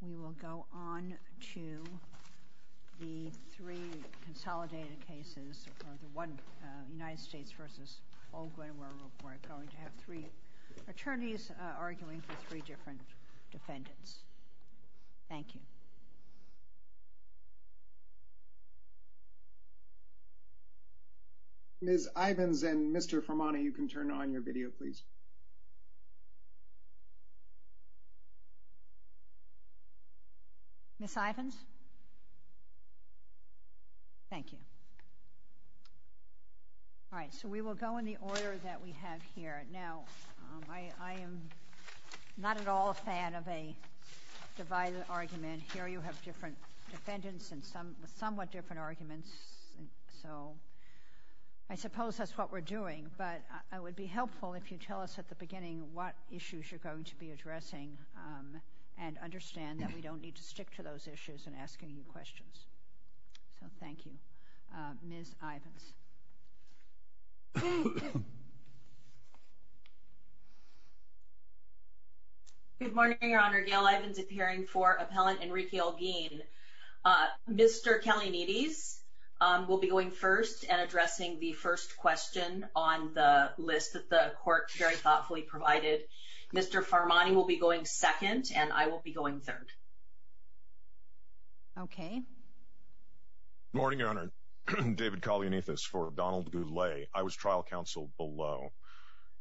We will go on to the three consolidated cases, United States v. Holguin, where we're going to have three attorneys arguing for three different defendants. Thank you. Ms. Ivins and Mr. Formani, you can turn on your video, please. Ms. Ivins? Thank you. All right. So we will go in the order that we have here. Now, I am not at all a fan of a divided argument. Here you have different defendants and somewhat different arguments. So I suppose that's what we're doing, but it would be helpful if you tell us at the beginning what issues you're going to be addressing and understand that we don't need to stick to those issues and ask any questions. Thank you. Ms. Ivins? Good morning, Your Honor. Gail Ivins, appearing for Appellant Enrique Holguin. Mr. Kalanides will be going first and addressing the first question on the list that the court very thoughtfully provided. Mr. Formani will be going second, and I will be going third. Okay. Good morning, Your Honor. David Kalanides for Donald Goulet. I was trial counsel below.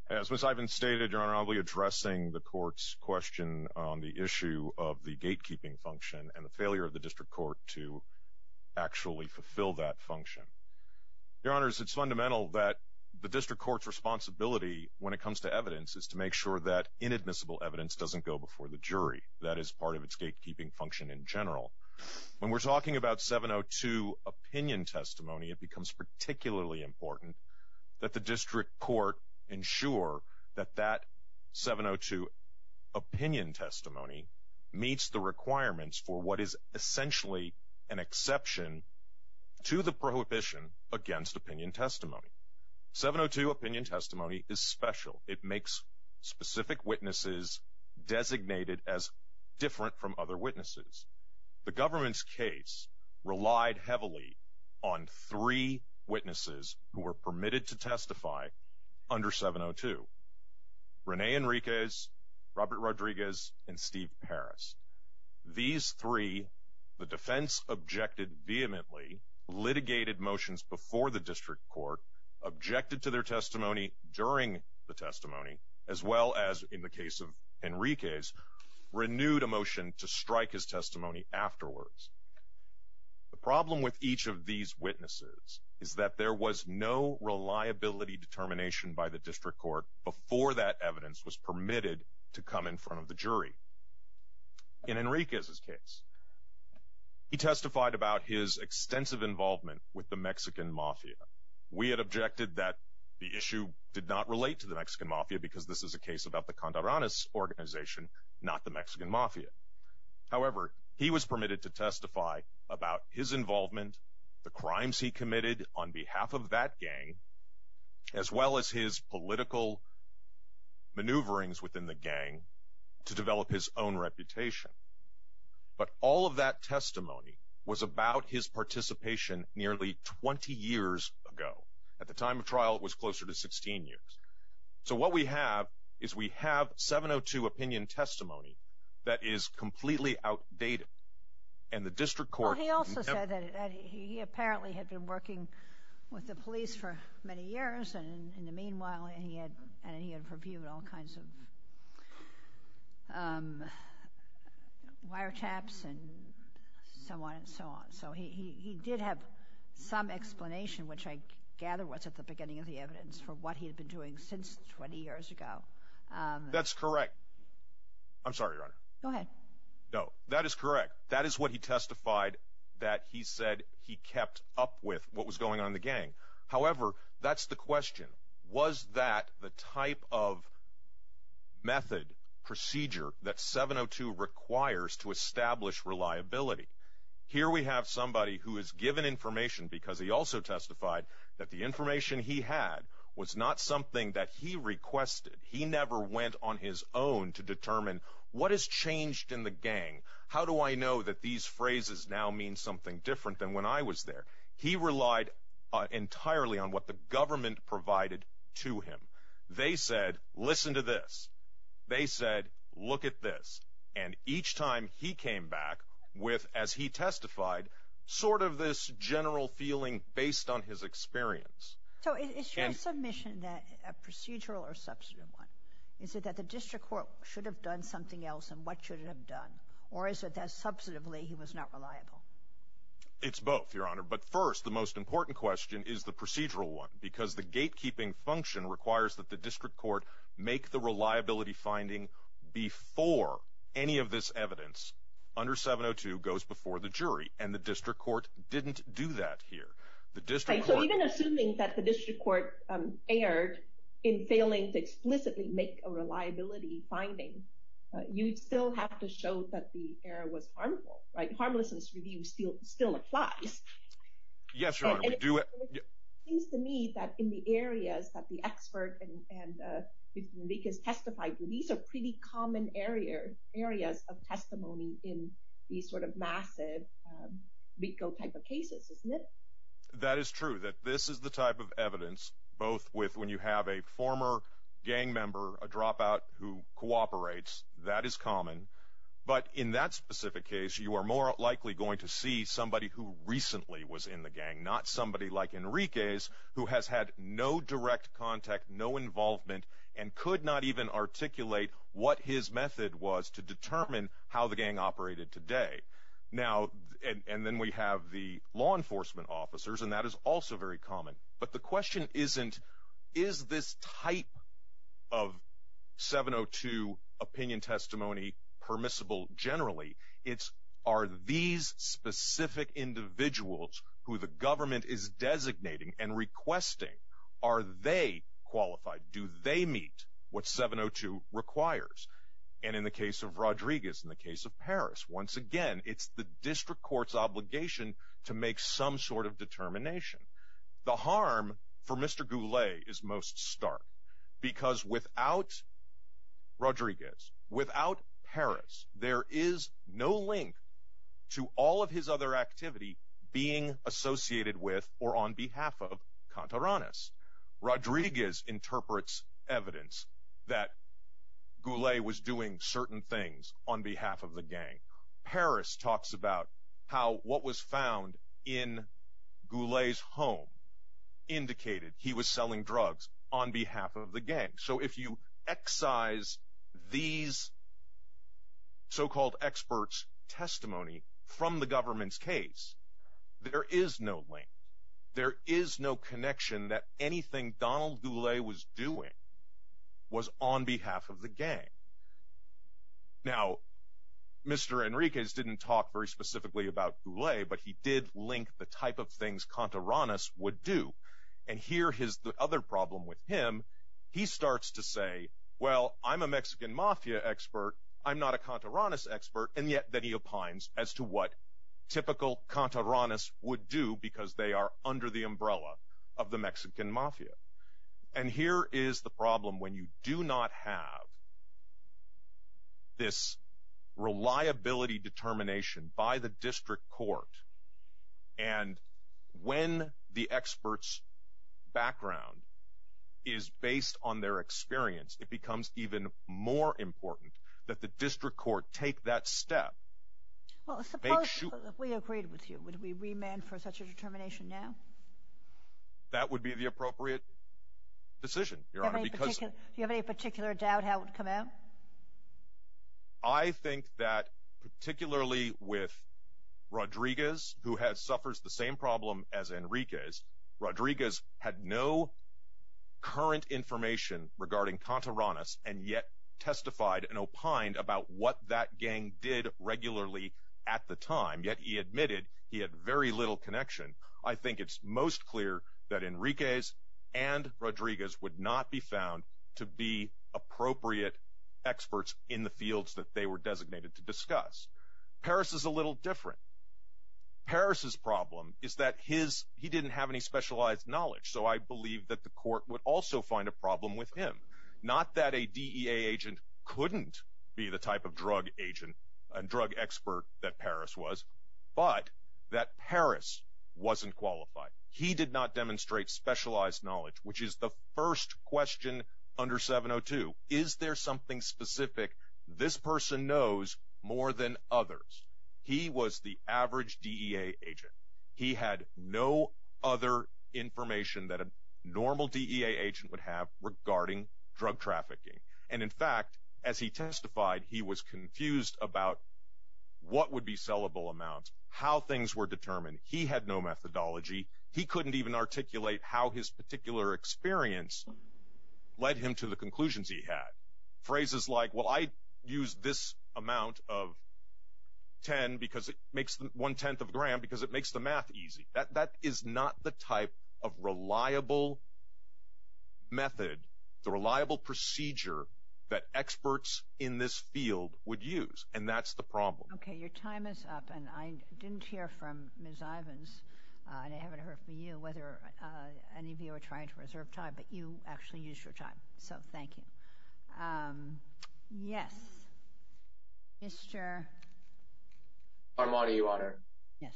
As Ms. Ivins stated, Your Honor, I will be addressing the court's question on the issue of the gatekeeping function and the failure of the district court to actually fulfill that function. Your Honor, it's fundamental that the district court's responsibility when it comes to evidence is to make sure that inadmissible evidence doesn't go before the jury. That is part of its gatekeeping function in general. When we're talking about 702 opinion testimony, it becomes particularly important that the district court ensure that that 702 opinion testimony meets the requirements for what is essentially an exception to the prohibition against opinion testimony. 702 opinion testimony is special. It makes specific witnesses designated as different from other witnesses. The government's case relied heavily on three witnesses who were permitted to testify under 702. Rene Enriquez, Robert Rodriguez, and Steve Paris. These three, the defense objected vehemently, litigated motions before the district court, objected to their testimony during the testimony, as well as in the case of Enriquez, renewed a motion to strike his testimony afterwards. The problem with each of these witnesses is that there was no reliability determination by the district court before that evidence was permitted to come in front of the jury. In Enriquez's case, he testified about his extensive involvement with the Mexican Mafia. We had objected that the issue did not relate to the Mexican Mafia because this is a case about the Contreras organization, not the Mexican Mafia. However, he was permitted to testify about his involvement, the crimes he committed on behalf of that gang, as well as his political maneuverings within the gang to develop his own reputation. But all of that testimony was about his participation nearly 20 years ago. At the time of trial, it was closer to 16 years. So what we have is we have 702 opinion testimony that is completely outdated. And the district court— Well, he also said that he apparently had been working with the police for many years, and in the meanwhile, he had—and he had reviewed all kinds of wiretaps and so on and so on. So he did have some explanation, which I gather was at the beginning of the evidence, for what he had been doing since 20 years ago. That's correct. I'm sorry, Your Honor. Go ahead. No, that is correct. That is what he testified that he said he kept up with what was going on in the gang. However, that's the question. Was that the type of method, procedure that 702 requires to establish reliability? Here we have somebody who is given information because he also testified that the information he had was not something that he requested. He never went on his own to determine, what has changed in the gang? How do I know that these phrases now mean something different than when I was there? He relied entirely on what the government provided to him. They said, listen to this. They said, look at this. And each time he came back with, as he testified, sort of this general feeling based on his experience. So is your submission a procedural or a substantive one? Is it that the district court should have done something else, and what should it have done? Or is it that, substantively, he was not reliable? It's both, Your Honor. But first, the most important question is the procedural one, because the gatekeeping function requires that the district court make the reliability finding before any of this evidence under 702 goes before the jury. And the district court didn't do that here. So even assuming that the district court erred in failing to explicitly make a reliability finding, you'd still have to show that the error was harmful. Harmlessness review still applies. Yes, Your Honor. It seems to me that in the areas that the expert and the leakers testified, these are pretty common areas of testimony in these sort of massive legal type of cases, isn't it? That is true, that this is the type of evidence, both when you have a former gang member, a dropout who cooperates, that is common. But in that specific case, you are more likely going to see somebody who recently was in the gang, not somebody like Enriquez, who has had no direct contact, no involvement, and could not even articulate what his method was to determine how the gang operated today. And then we have the law enforcement officers, and that is also very common. But the question isn't, is this type of 702 opinion testimony permissible generally? It's, are these specific individuals who the government is designating and requesting, are they qualified? Do they meet what 702 requires? And in the case of Rodriguez, in the case of Harris, once again, it's the district court's obligation to make some sort of determination. The harm for Mr. Goulet is most stark, because without Rodriguez, without Harris, there is no link to all of his other activity being associated with or on behalf of Cantaranes. Rodriguez interprets evidence that Goulet was doing certain things on behalf of the gang. Harris talks about how what was found in Goulet's home indicated he was selling drugs on behalf of the gang. So if you excise these so-called experts' testimony from the government's case, there is no link. There is no connection that anything Donald Goulet was doing was on behalf of the gang. Now, Mr. Enriquez didn't talk very specifically about Goulet, but he did link the type of things Cantaranes would do. And here is the other problem with him. He starts to say, well, I'm a Mexican mafia expert. I'm not a Cantaranes expert. And yet then he opines as to what typical Cantaranes would do, because they are under the umbrella of the Mexican mafia. And here is the problem. When you do not have this reliability determination by the district court, and when the expert's background is based on their experience, it becomes even more important that the district court take that step. Well, suppose if we agreed with you, would we remand for such a determination now? That would be the appropriate decision, Your Honor. Do you have any particular doubt how it would come out? I think that particularly with Rodriguez, who suffers the same problem as Enriquez, Rodriguez had no current information regarding Cantaranes, and yet testified and opined about what that gang did regularly at the time. Yet he admitted he had very little connection. I think it's most clear that Enriquez and Rodriguez would not be found to be appropriate experts in the fields that they were designated to discuss. Paris is a little different. Paris's problem is that he didn't have any specialized knowledge, so I believe that the court would also find a problem with him. Not that a DEA agent couldn't be the type of drug expert that Paris was, but that Paris wasn't qualified. He did not demonstrate specialized knowledge, which is the first question under 702. Is there something specific this person knows more than others? He was the average DEA agent. He had no other information that a normal DEA agent would have regarding drug trafficking. And in fact, as he testified, he was confused about what would be sellable amounts, how things were determined. He had no methodology. He couldn't even articulate how his particular experience led him to the conclusions he had. Phrases like, well, I use this amount of ten because it makes one-tenth of a gram because it makes the math easy. That is not the type of reliable method, the reliable procedure that experts in this field would use, and that's the problem. Okay, your time is up. And I didn't hear from Ms. Ivins, and I haven't heard from you, whether any of you are trying to reserve time. But you actually used your time, so thank you. Yes, Mr. Farmani, Your Honor. Yes.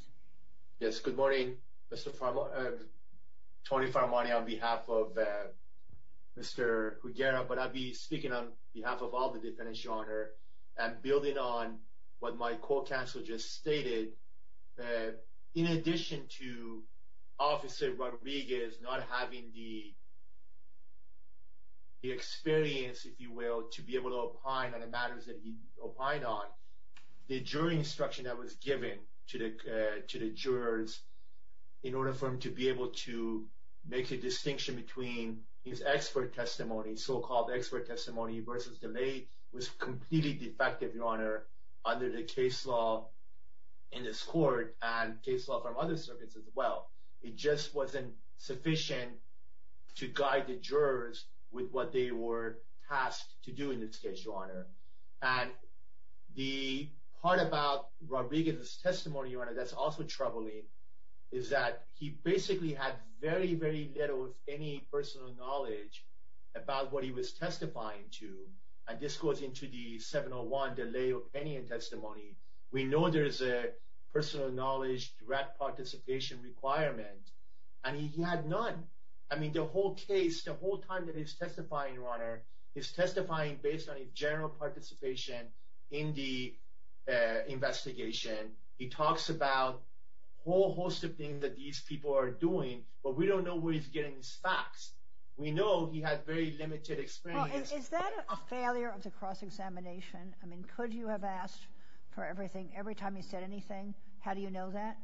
Yes, good morning, Mr. Farmani, Tony Farmani, on behalf of Mr. Huguera. But I'll be speaking on behalf of all the defendants, Your Honor. And building on what my court counsel just stated, in addition to Officer Rodriguez not having the experience, if you will, to be able to opine on the matters that he opined on, the jury instruction that was given to the jurors, in order for him to be able to make a distinction between his expert testimony, so-called expert testimony, versus the way it was completely defective, Your Honor, under the case law in this court and case law from other circuits as well. It just wasn't sufficient to guide the jurors with what they were tasked to do in this case, Your Honor. And the part about Rodriguez's testimony, Your Honor, that's also troubling, is that he basically had very, very little, any personal knowledge about what he was testifying to. And this goes into the 701, the lay opinion testimony. We know there is a personal knowledge direct participation requirement, and he had none. I mean, the whole case, the whole time that he's testifying, Your Honor, he's testifying based on his general participation in the investigation. He talks about a whole host of things that these people are doing, but we don't know where he's getting his facts. We know he had very limited experience. Well, is that a failure of the cross-examination? I mean, could you have asked for everything every time he said anything? How do you know that?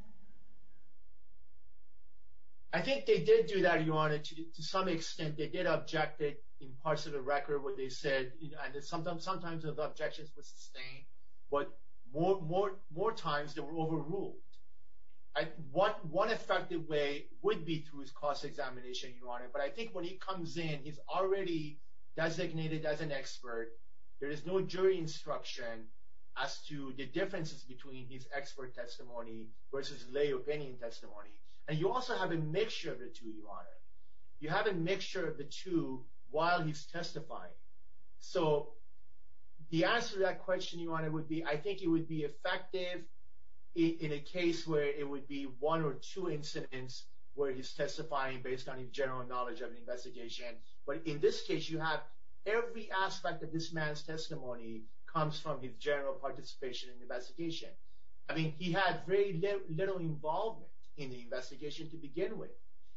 I think they did do that, Your Honor. To some extent, they did object it in parts of the record what they said, and sometimes those objections were sustained, but more times they were overruled. One effective way would be through his cross-examination, Your Honor, but I think when he comes in, he's already designated as an expert. There is no jury instruction as to the differences between his expert testimony versus lay opinion testimony, and you also have a mixture of the two, Your Honor. You have a mixture of the two while he's testifying, so the answer to that question, Your Honor, would be I think it would be effective in a case where it would be one or two incidents where he's testifying based on his general knowledge of the investigation, but in this case, you have every aspect of this man's testimony comes from his general participation in the investigation. I mean, he had very little involvement in the investigation to begin with.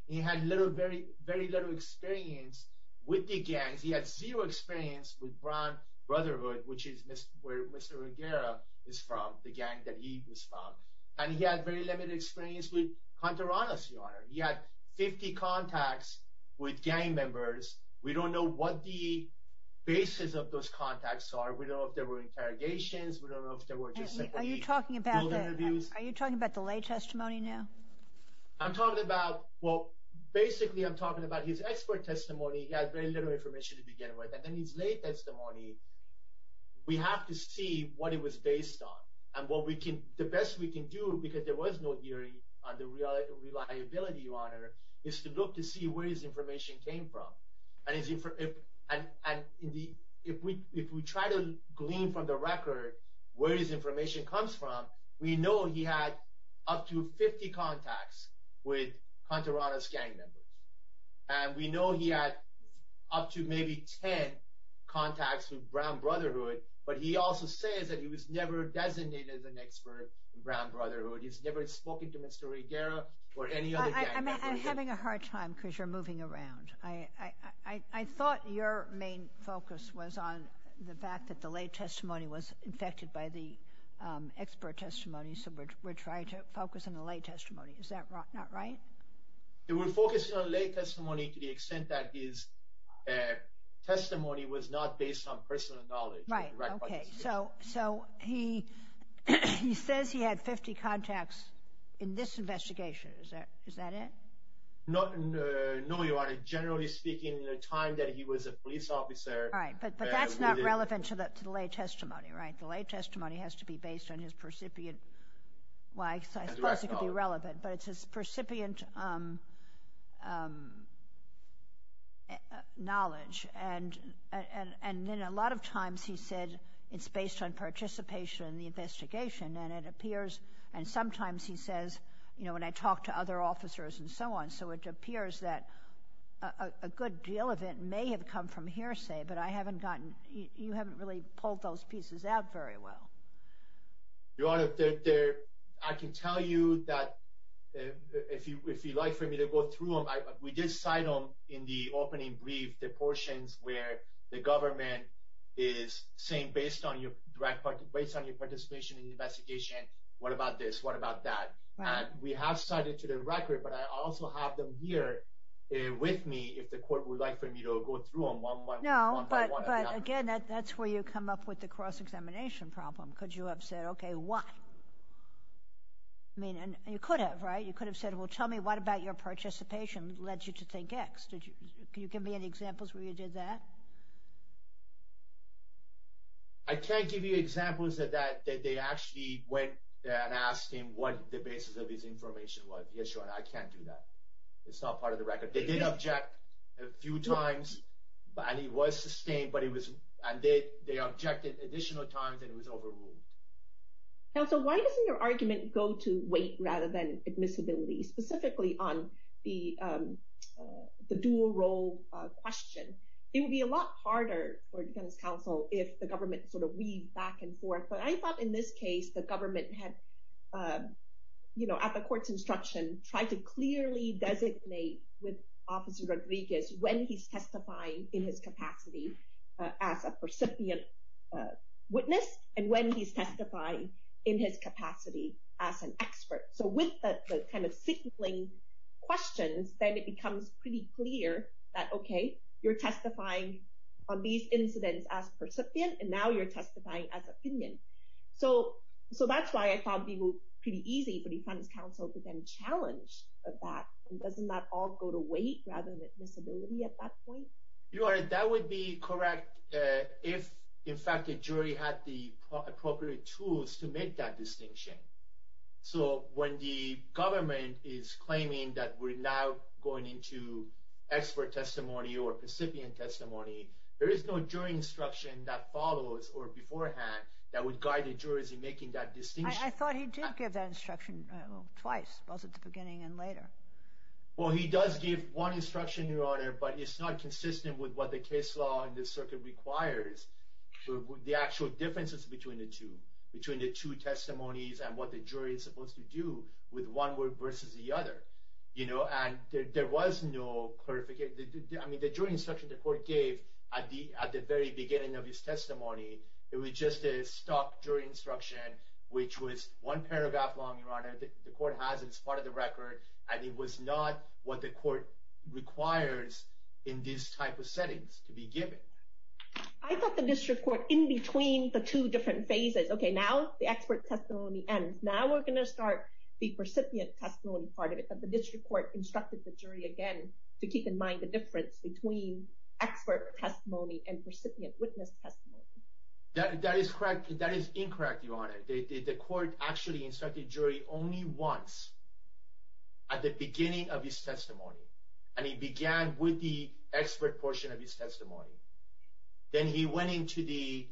He had very little experience with the gangs. He had zero experience with Brown Brotherhood, which is where Mr. Rivera is from, the gang that he is from, and he had very limited experience with Hunter-Ronas, Your Honor. He had 50 contacts with gang members. We don't know what the basis of those contacts are. We don't know if there were interrogations. We don't know if there were just simply building reviews. Are you talking about the lay testimony now? I'm talking about – well, basically, I'm talking about his expert testimony. He had very little information to begin with, and then his lay testimony, we have to see what it was based on, and the best we can do, because there was no hearing on the reliability, Your Honor, is to look to see where his information came from, and if we try to glean from the record where his information comes from, we know he had up to 50 contacts with Hunter-Ronas' gang members, and we know he had up to maybe 10 contacts with Brown Brotherhood, but he also says that he was never designated as an expert in Brown Brotherhood. He's never spoken to Mr. Rivera or any other gang member. I'm having a hard time because you're moving around. I thought your main focus was on the fact that the lay testimony was affected by the expert testimony, so we're trying to focus on the lay testimony. Is that not right? We're focusing on lay testimony to the extent that his testimony was not based on personal knowledge. Right, okay, so he says he had 50 contacts in this investigation. Is that it? No, Your Honor. Generally speaking, the time that he was a police officer – Right, but that's not relevant to the lay testimony, right? The lay testimony has to be based on his percipient – well, I suppose it could be relevant, but it's his percipient knowledge. And then a lot of times he said it's based on participation in the investigation, and it appears – and sometimes he says, you know, when I talk to other officers and so on, so it appears that a good deal of it may have come from hearsay, but I haven't gotten – you haven't really pulled those pieces out very well. Your Honor, I can tell you that if you'd like for me to go through them, we did cite them in the opening brief, the portions where the government is saying, based on your participation in the investigation, what about this? What about that? And we have cited to the record, but I also have them here with me if the court would like for me to go through them one by one. But again, that's where you come up with the cross-examination problem. Could you have said, okay, why? I mean, you could have, right? You could have said, well, tell me what about your participation led you to think X? Can you give me any examples where you did that? I can't give you examples that they actually went and asked him what the basis of his information was. Yes, Your Honor, I can't do that. It's not part of the record. They did object a few times, and he was sustained, but they objected additional times, and it was overruled. Counsel, why doesn't your argument go to weight rather than admissibility, specifically on the dual role question? It would be a lot harder for defense counsel if the government sort of weaved back and forth. But I thought in this case, the government had, at the court's instruction, tried to clearly designate with Officer Rodriguez when he's testifying in his capacity as a percipient witness and when he's testifying in his capacity as an expert. So with the kind of signaling questions, then it becomes pretty clear that, okay, you're testifying on these incidents as percipient, and now you're testifying as opinion. So that's why I thought it would be pretty easy for defense counsel to then challenge that. Doesn't that all go to weight rather than admissibility at that point? Your Honor, that would be correct if, in fact, the jury had the appropriate tools to make that distinction. So when the government is claiming that we're now going into expert testimony or percipient testimony, there is no jury instruction that follows or beforehand that would guide the jurors in making that distinction. I thought he did give that instruction twice, both at the beginning and later. Well, he does give one instruction, Your Honor, but it's not consistent with what the case law in this circuit requires, the actual differences between the two, between the two testimonies and what the jury is supposed to do with one versus the other. And there was no clarification. I mean, the jury instruction the court gave at the very beginning of his testimony, it was just a stock jury instruction, which was one paragraph long, Your Honor. The court has it as part of the record, and it was not what the court requires in these type of settings to be given. I thought the district court, in between the two different phases, okay, now the expert testimony ends. Now we're going to start the percipient testimony part of it, but the district court instructed the jury again to keep in mind the difference between expert testimony and percipient witness testimony. That is incorrect, Your Honor. The court actually instructed the jury only once at the beginning of his testimony, and it began with the expert portion of his testimony. Then he went into the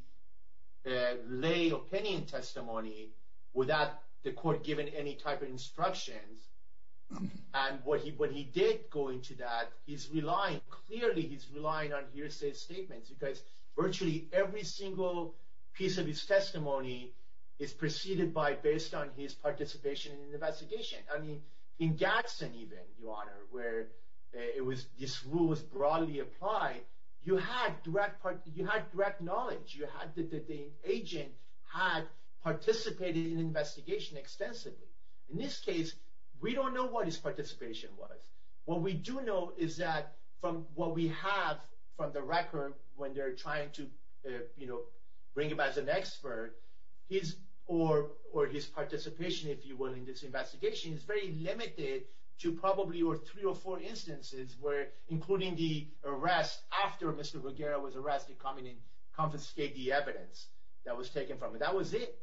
lay opinion testimony without the court giving any type of instructions, and when he did go into that, he's relying, clearly he's relying on hearsay statements because virtually every single piece of his testimony is preceded by based on his participation in the investigation. I mean, in Gadsden even, Your Honor, where this rule was broadly applied, you had direct knowledge. The agent had participated in the investigation extensively. In this case, we don't know what his participation was. What we do know is that from what we have from the record when they're trying to bring him as an expert, or his participation, if you will, in this investigation is very limited to probably three or four instances where including the arrest after Mr. Ruggiero was arrested coming in to confiscate the evidence that was taken from him. That was it,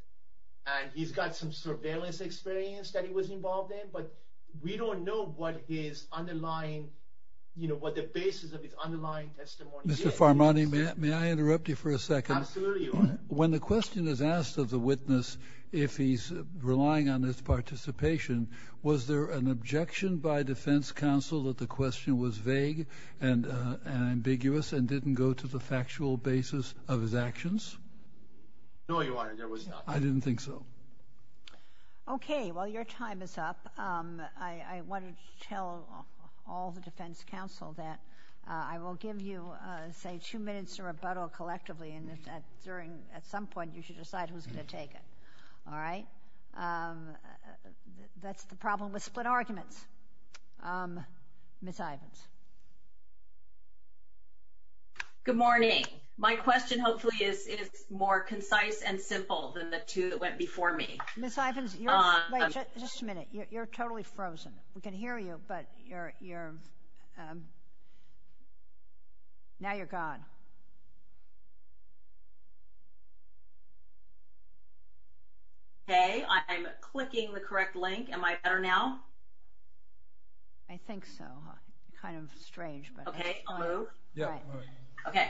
and he's got some surveillance experience that he was involved in, but we don't know what the basis of his underlying testimony is. Mr. Farmani, may I interrupt you for a second? Absolutely, Your Honor. When the question is asked of the witness if he's relying on his participation, was there an objection by defense counsel that the question was vague and ambiguous and didn't go to the factual basis of his actions? No, Your Honor, there was not. I didn't think so. Okay, well, your time is up. I want to tell all the defense counsel that I will give you, say, two minutes to rebuttal collectively and at some point you should decide who's going to take it. All right? That's the problem with split arguments. Ms. Ivins. Good morning. My question hopefully is more concise and simple than the two that went before me. Ms. Ivins, just a minute. You're totally frozen. We can hear you, but now you're gone. Okay. I'm clicking the correct link. Am I better now? I think so. Kind of strange. Okay, I'll move? Yeah, move. Okay.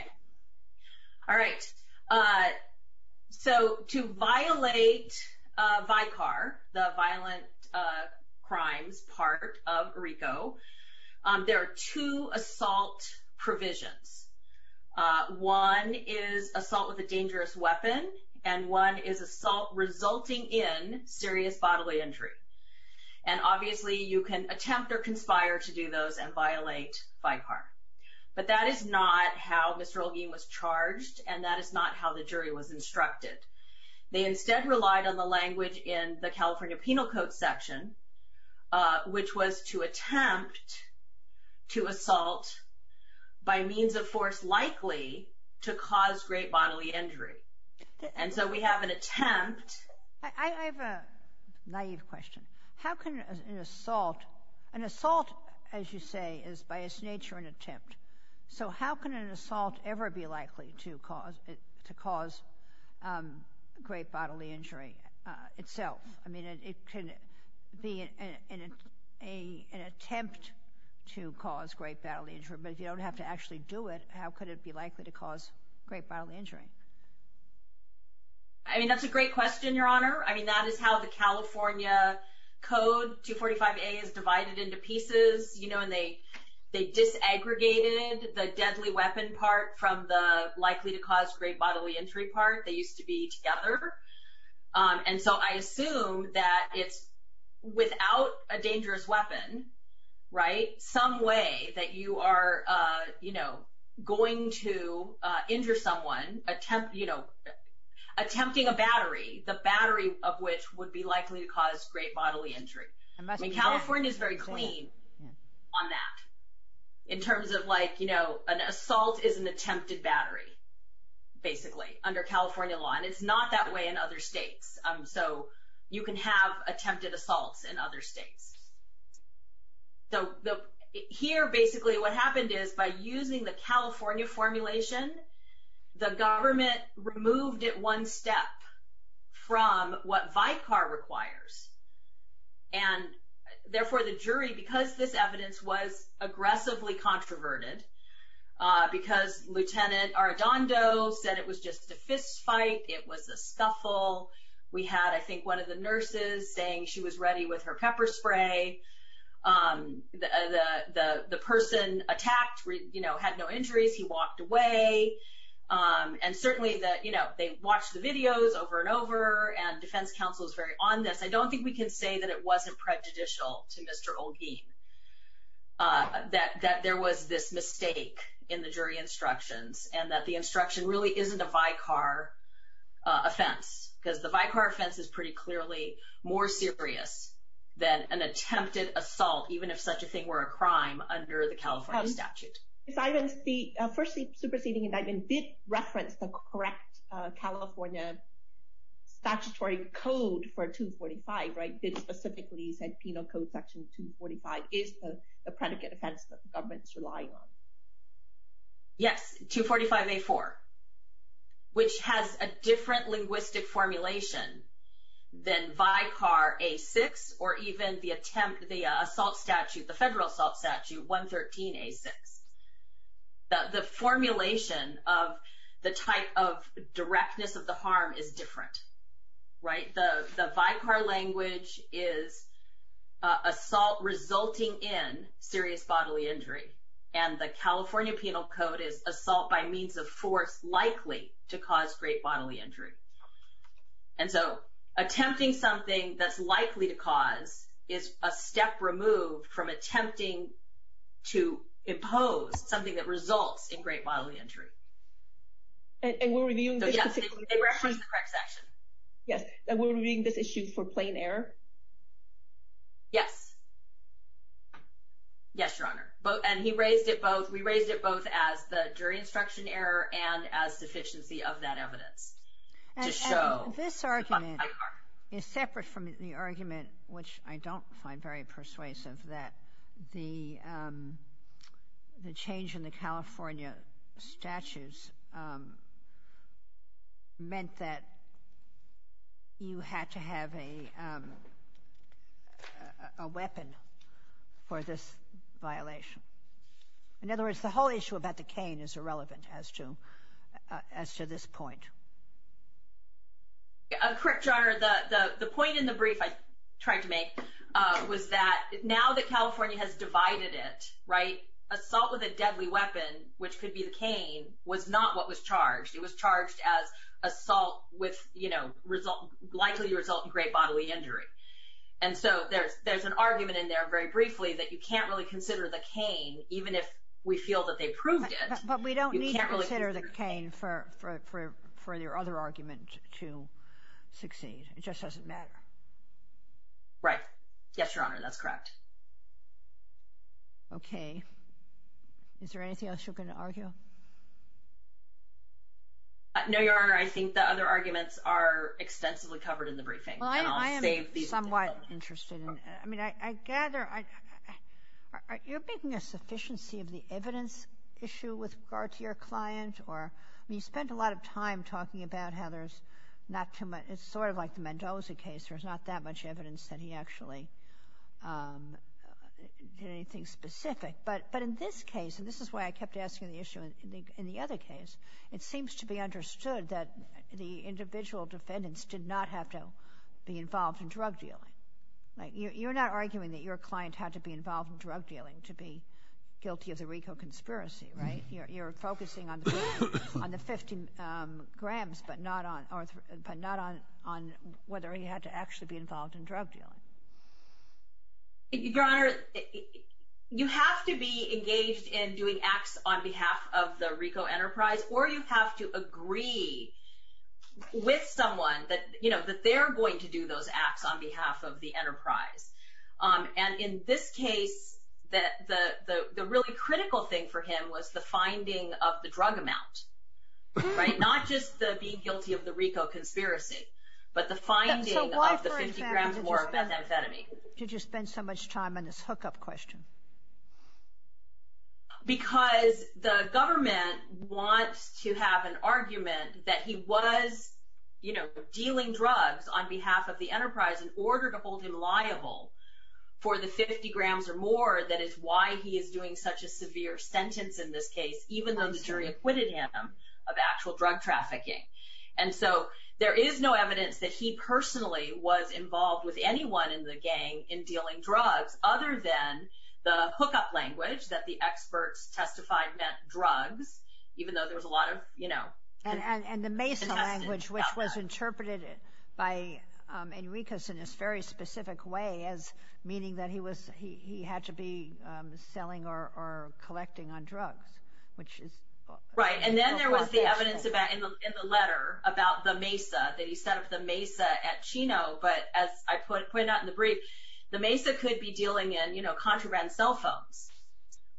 All right. So to violate VICAR, the violent crimes part of RICO, there are two assault provisions. One is assault with a dangerous weapon, and one is assault resulting in serious bodily injury. And obviously you can attempt or conspire to do those and violate VICAR. But that is not how Mr. Olguin was charged, and that is not how the jury was instructed. They instead relied on the language in the California Penal Code section, which was to attempt to assault by means of force likely to cause great bodily injury. And so we have an attempt. I have a naive question. An assault, as you say, is by its nature an attempt. So how can an assault ever be likely to cause great bodily injury itself? I mean, it can be an attempt to cause great bodily injury, but if you don't have to actually do it, how could it be likely to cause great bodily injury? I mean, that's a great question, Your Honor. I mean, that is how the California Code 245A is divided into pieces, and they disaggregated the deadly weapon part from the likely to cause great bodily injury part. They used to be together. And so I assume that it's without a dangerous weapon, right, some way that you are going to injure someone attempting a battery. The battery of which would be likely to cause great bodily injury. I mean, California is very clean on that in terms of like, you know, an assault is an attempted battery basically under California law, and it's not that way in other states. So you can have attempted assaults in other states. So here basically what happened is by using the California formulation, the government removed it one step from what VICAR requires, and therefore the jury, because this evidence was aggressively controverted, because Lieutenant Arradondo said it was just a fist fight, it was a scuffle. We had, I think, one of the nurses saying she was ready with her pepper spray. The person attacked, you know, had no injuries. He walked away. And certainly, you know, they watched the videos over and over, and defense counsel is very on this. I don't think we can say that it wasn't prejudicial to Mr. Olguin, that there was this mistake in the jury instructions, and that the instruction really isn't a VICAR offense, because the VICAR offense is pretty clearly more serious than an attempted assault, even if such a thing were a crime under the California statute. First superseding indictment did reference the correct California statutory code for 245, right? It specifically said penal code section 245 is the predicate offense that the government's relying on. Yes, 245A4, which has a different linguistic formulation than VICAR A6, or even the attempt, the assault statute, the federal assault statute, 113A6. The formulation of the type of directness of the harm is different, right? The VICAR language is assault resulting in serious bodily injury, and the California penal code is assault by means of force likely to cause great bodily injury. And so attempting something that's likely to cause is a step removed from attempting to impose something that results in great bodily injury. And we're reviewing this issue for plain error? Yes. Yes, Your Honor. And he raised it both, we raised it both as the jury instruction error and as deficiency of that evidence to show VICAR. And this argument is separate from the argument, which I don't find very persuasive, that the change in the California statute meant that you had to have a weapon for this violation. In other words, the whole issue about the cane is irrelevant as to this point. Correct, Your Honor. The point in the brief I tried to make was that now that California has divided it, assault with a deadly weapon, which could be the cane, was not what was charged. It was charged as assault likely to result in great bodily injury. And so there's an argument in there very briefly that you can't really consider the cane even if we feel that they proved it. But we don't need to consider the cane for your other argument to succeed. It just doesn't matter. Right. Yes, Your Honor, that's correct. Okay. Is there anything else you're going to argue? No, Your Honor. I think the other arguments are extensively covered in the briefing, and I'll save these for the moment. Well, I am somewhat interested in it. I mean, I gather you're making a sufficiency of the evidence issue with regard to your client. I mean, you spent a lot of time talking about how there's not too much. It's sort of like the Mendoza case. There's not that much evidence that he actually did anything specific. But in this case, and this is why I kept asking the issue in the other case, it seems to be understood that the individual defendants did not have to be involved in drug dealing. You're not arguing that your client had to be involved in drug dealing to be guilty of the RICO conspiracy, right? You're focusing on the 50 grams but not on whether he had to actually be involved in drug dealing. Your Honor, you have to be engaged in doing acts on behalf of the RICO enterprise, or you have to agree with someone that they're going to do those acts on behalf of the enterprise. And in this case, the really critical thing for him was the finding of the drug amount, right? Not just the being guilty of the RICO conspiracy, but the finding of the 50 grams worth of methamphetamine. Did you spend so much time on this hookup question? Because the government wants to have an argument that he was, you know, on behalf of the enterprise in order to hold him liable for the 50 grams or more that is why he is doing such a severe sentence in this case, even though the jury acquitted him of actual drug trafficking. And so there is no evidence that he personally was involved with anyone in the gang in dealing drugs other than the hookup language that the experts testified meant drugs, even though there was a lot of, you know. And the MESA language, which was interpreted by Enriquez in this very specific way as meaning that he had to be selling or collecting on drugs, which is. Right. And then there was the evidence in the letter about the MESA, that he set up the MESA at Chino. But as I pointed out in the brief, the MESA could be dealing in, you know, contraband cell phones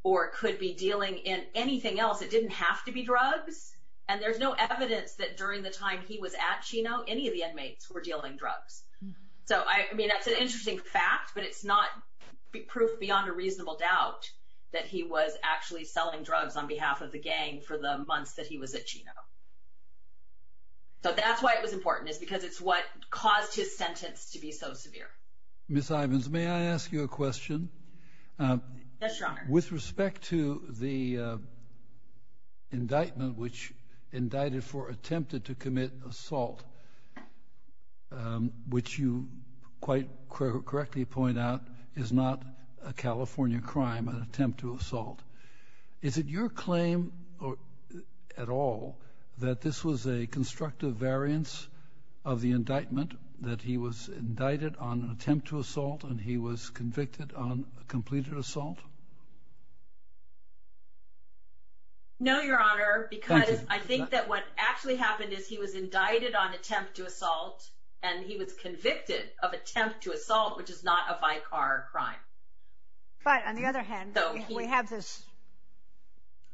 or could be dealing in anything else. It didn't have to be drugs. And there's no evidence that during the time he was at Chino, any of the inmates were dealing drugs. So, I mean, that's an interesting fact, but it's not proof beyond a reasonable doubt that he was actually selling drugs on behalf of the gang for the months that he was at Chino. So that's why it was important is because it's what caused his sentence to be so severe. Ms. Ivins, may I ask you a question? Yes, Your Honor. With respect to the indictment which indicted for attempted to commit assault, which you quite correctly point out is not a California crime, an attempt to assault, is it your claim at all that this was a constructive variance of the indictment that he was indicted on attempt to assault and he was convicted on No, Your Honor, because I think that what actually happened is he was indicted on attempt to assault and he was convicted of attempt to assault, which is not a Vicar crime. But on the other hand, we have this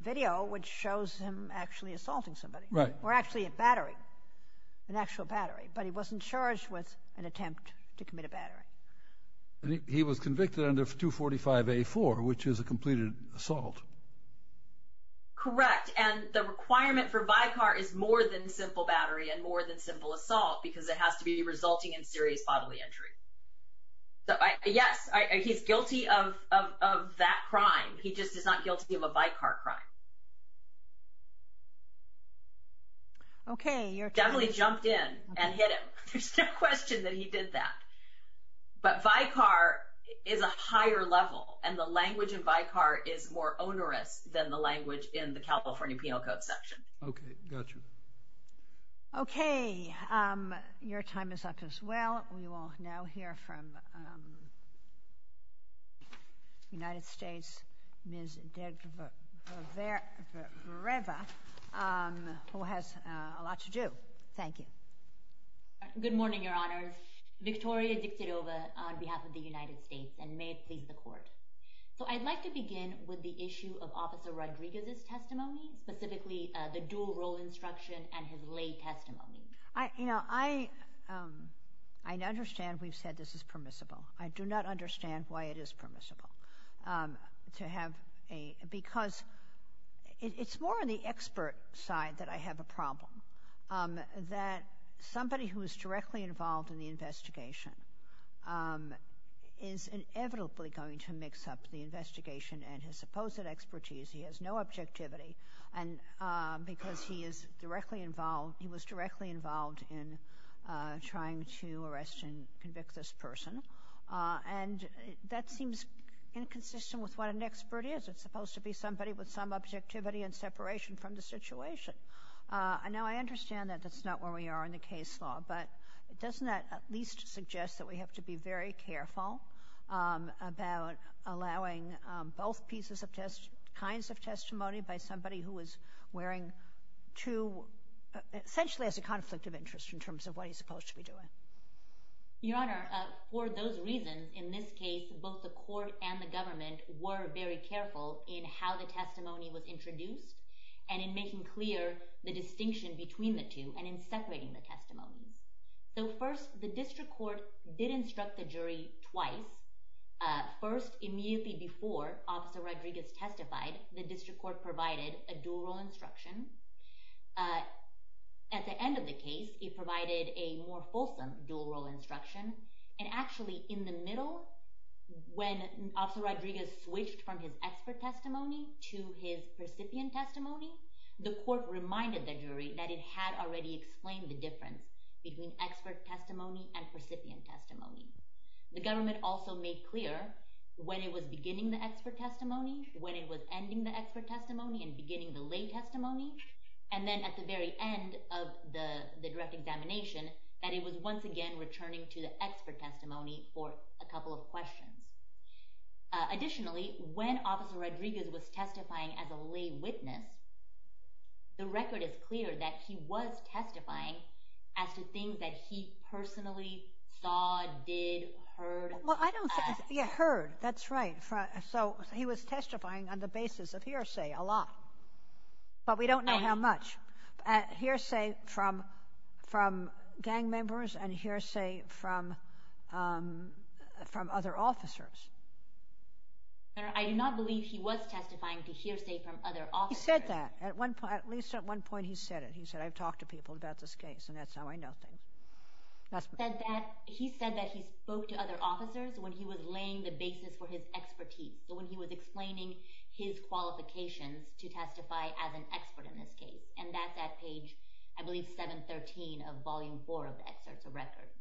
video which shows him actually assaulting somebody. Right. Or actually a battery, an actual battery, but he wasn't charged with an attempt to commit a battery. He was convicted under 245A4, which is a completed assault. Correct. And the requirement for Vicar is more than simple battery and more than simple assault because it has to be resulting in serious bodily injury. So yes, he's guilty of that crime. He just is not guilty of a Vicar crime. Okay. Definitely jumped in and hit him. There's no question that he did that. But Vicar is a higher level and the language of Vicar is more onerous than the language in the California Penal Code section. Okay. Got you. Okay. Your time is up as well. We will now hear from the United States, Ms. Degreva, who has a lot to do. Thank you. Good morning, Your Honor. Victoria Dictadova on behalf of the United States, and may it please the Court. So I'd like to begin with the issue of Officer Rodriguez's testimony, specifically the dual role instruction and his lay testimony. You know, I understand we've said this is permissible. I do not understand why it is permissible to have a – because it's more on the expert side that I have a problem. That somebody who is directly involved in the investigation is inevitably going to mix up the investigation and his supposed expertise. He has no objectivity because he is directly involved – he was directly involved in trying to arrest and convict this person. And that seems inconsistent with what an expert is. It's supposed to be somebody with some objectivity and separation from the situation. Now, I understand that that's not where we are in the case law, but doesn't that at least suggest that we have to be very careful about allowing both pieces of – kinds of testimony by somebody who is wearing two – essentially has a conflict of interest in terms of what he's supposed to be doing? Your Honor, for those reasons, in this case, both the Court and the government were very careful in how the testimony was introduced and in making clear the distinction between the two and in separating the testimonies. So first, the District Court did instruct the jury twice. First, immediately before Officer Rodriguez testified, the District Court provided a dual role instruction. At the end of the case, it provided a more fulsome dual role instruction. And actually, in the middle, when Officer Rodriguez switched from his expert testimony to his recipient testimony, the Court reminded the jury that it had already explained the difference between expert testimony and recipient testimony. The government also made clear when it was beginning the expert testimony, when it was ending the expert testimony and beginning the lay testimony, and then at the very end of the direct examination that it was once again returning to the expert testimony for a couple of questions. Additionally, when Officer Rodriguez was testifying as a lay witness, the record is clear that he was testifying as to things that he personally saw, did, heard. Well, I don't think he heard. That's right. So he was testifying on the basis of hearsay, a lot. But we don't know how much. Hearsay from gang members and hearsay from other officers. I do not believe he was testifying to hearsay from other officers. He said that. At least at one point he said it. He said, I've talked to people about this case, and that's how I know things. He said that he spoke to other officers when he was laying the basis for his expertise, so when he was explaining his qualifications to testify as an expert in this case. And that's at page, I believe, 713 of Volume 4 of the Excerpts of Records.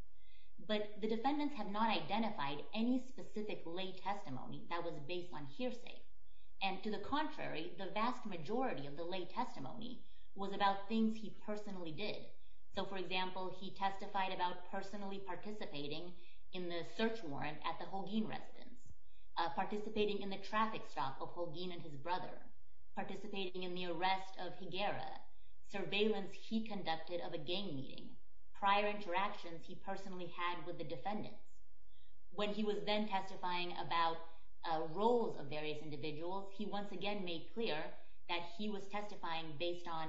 But the defendants have not identified any specific lay testimony that was based on hearsay. And to the contrary, the vast majority of the lay testimony was about things he personally did. So, for example, he testified about personally participating in the search warrant at the Holguin residence, participating in the traffic stop of Holguin and his brother, participating in the arrest of Higuera, surveillance he conducted of a gang meeting, prior interactions he personally had with the defendant. When he was then testifying about roles of various individuals, he once again made clear that he was testifying based on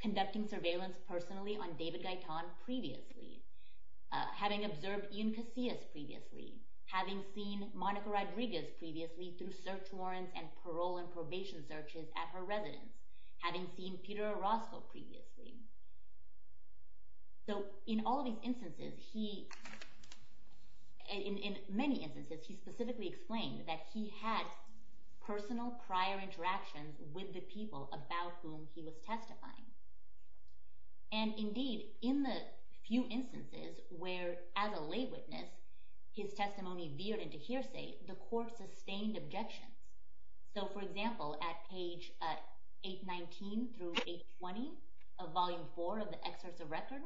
conducting surveillance personally on David Gaitan previously, having observed Ian Casillas previously, having seen Monica Rodriguez previously through search warrants and parole and probation searches at her residence, having seen Peter Orozco previously. So in all of these instances, in many instances, he specifically explained that he had personal prior interactions with the people about whom he was testifying. And indeed, in the few instances where, as a lay witness, his testimony veered into hearsay, the court sustained objection. So, for example, at page 819 through 820 of Volume 4 of the Excerpts of Record,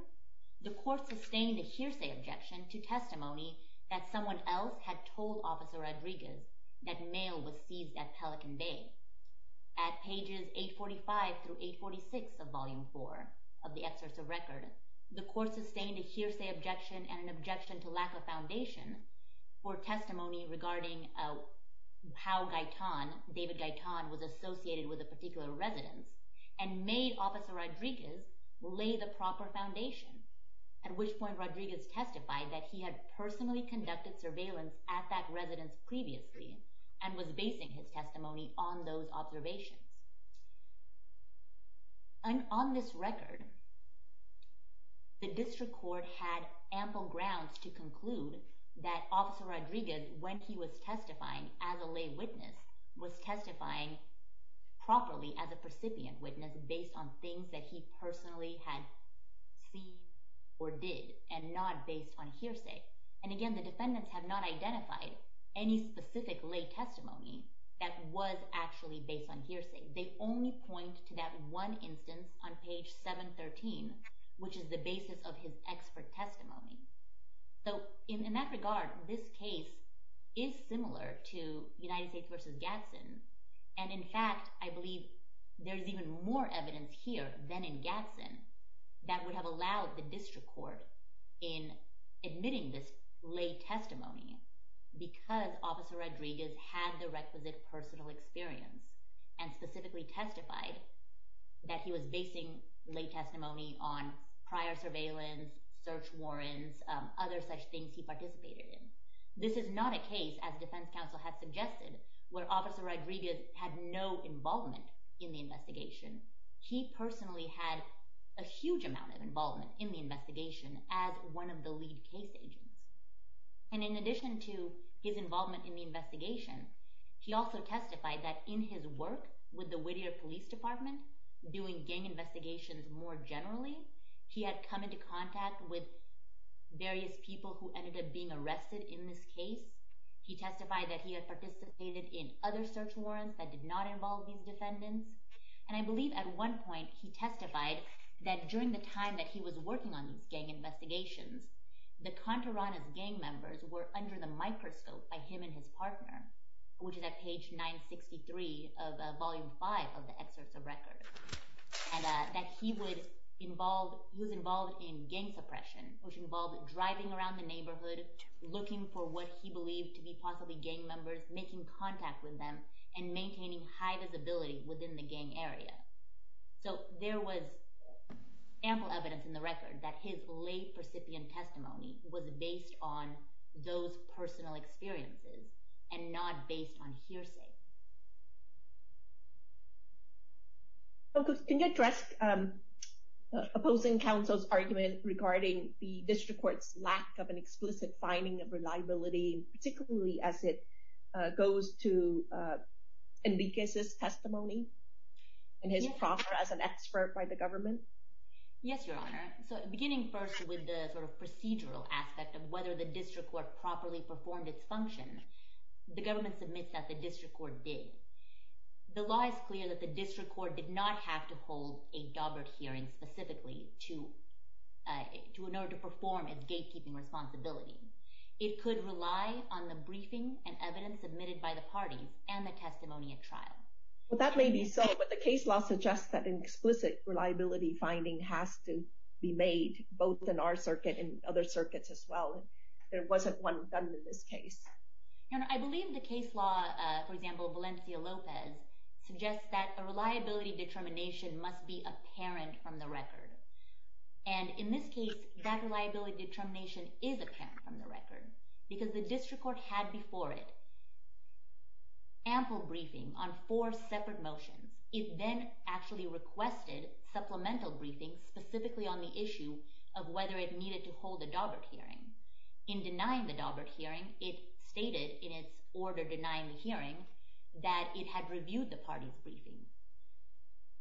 the court sustained a hearsay objection to testimony that someone else had told Officer Rodriguez that mail was seized at Pelican Bay. At pages 845 through 846 of Volume 4 of the Excerpts of Record, the court sustained a hearsay objection and an objection to lack of foundation for testimony regarding how David Gaitan was associated with a particular residence and made Officer Rodriguez lay the proper foundation, at which point Rodriguez testified that he had personally conducted surveillance at that residence previously and was basing his testimony on those observations. On this record, the District Court had ample grounds to conclude that Officer Rodriguez, when he was testifying as a lay witness, was testifying properly as a precipient witness based on things that he personally had seen or did and not based on hearsay. And again, the defendants have not identified any specific lay testimony that was actually based on hearsay. They only point to that one instance on page 713, which is the basis of his expert testimony. So in that regard, this case is similar to United States v. Gadsden. And in fact, I believe there's even more evidence here than in Gadsden that would have allowed the District Court in admitting this lay testimony because Officer Rodriguez had the requisite personal experience and specifically testified that he was basing lay testimony on prior surveillance, search warrants, other such things he participated in. This is not a case, as Defense Counsel has suggested, where Officer Rodriguez had no involvement in the investigation. He personally had a huge amount of involvement in the investigation as one of the lead case agents. And in addition to his involvement in the investigation, he also testified that in his work with the Whittier Police Department doing gang investigations more generally, he had come into contact with various people who ended up being arrested in this case. He testified that he had participated in other search warrants that did not involve these defendants. And I believe at one point he testified that during the time that he was working on these gang investigations, the Contarana's gang members were under the microscope by him and his partner, which is at page 963 of Volume 5 of the excerpts of records, and that he was involved in gang suppression, which involved driving around the neighborhood, looking for what he believed to be possibly gang members, making contact with them, and maintaining high visibility within the gang area. So there was ample evidence in the record that his late recipient testimony was based on those personal experiences and not based on hearsay. Can you address opposing counsel's argument regarding the district court's lack of an explicit finding of reliability, particularly as it goes to Enriquez's testimony and his proffer as an expert by the government? Yes, Your Honor. So beginning first with the sort of procedural aspect of whether the district court properly performed its function, the government submits that the district court did. The law is clear that the district court did not have to hold a dobber hearing specifically in order to perform its gatekeeping responsibilities. It could rely on the briefing and evidence submitted by the party and the testimony at trial. That may be so, but the case law suggests that an explicit reliability finding has to be made both in our circuit and other circuits as well. There wasn't one done in this case. Your Honor, I believe the case law, for example, Valencia Lopez, suggests that a reliability determination must be apparent from the record. And in this case, that reliability determination is apparent from the record because the district court had before it an ample briefing on four separate motions. It then actually requested supplemental briefing specifically on the issue of whether it needed to hold a dobber hearing. In denying the dobber hearing, it stated in its order denying the hearing that it had reviewed the party's briefings.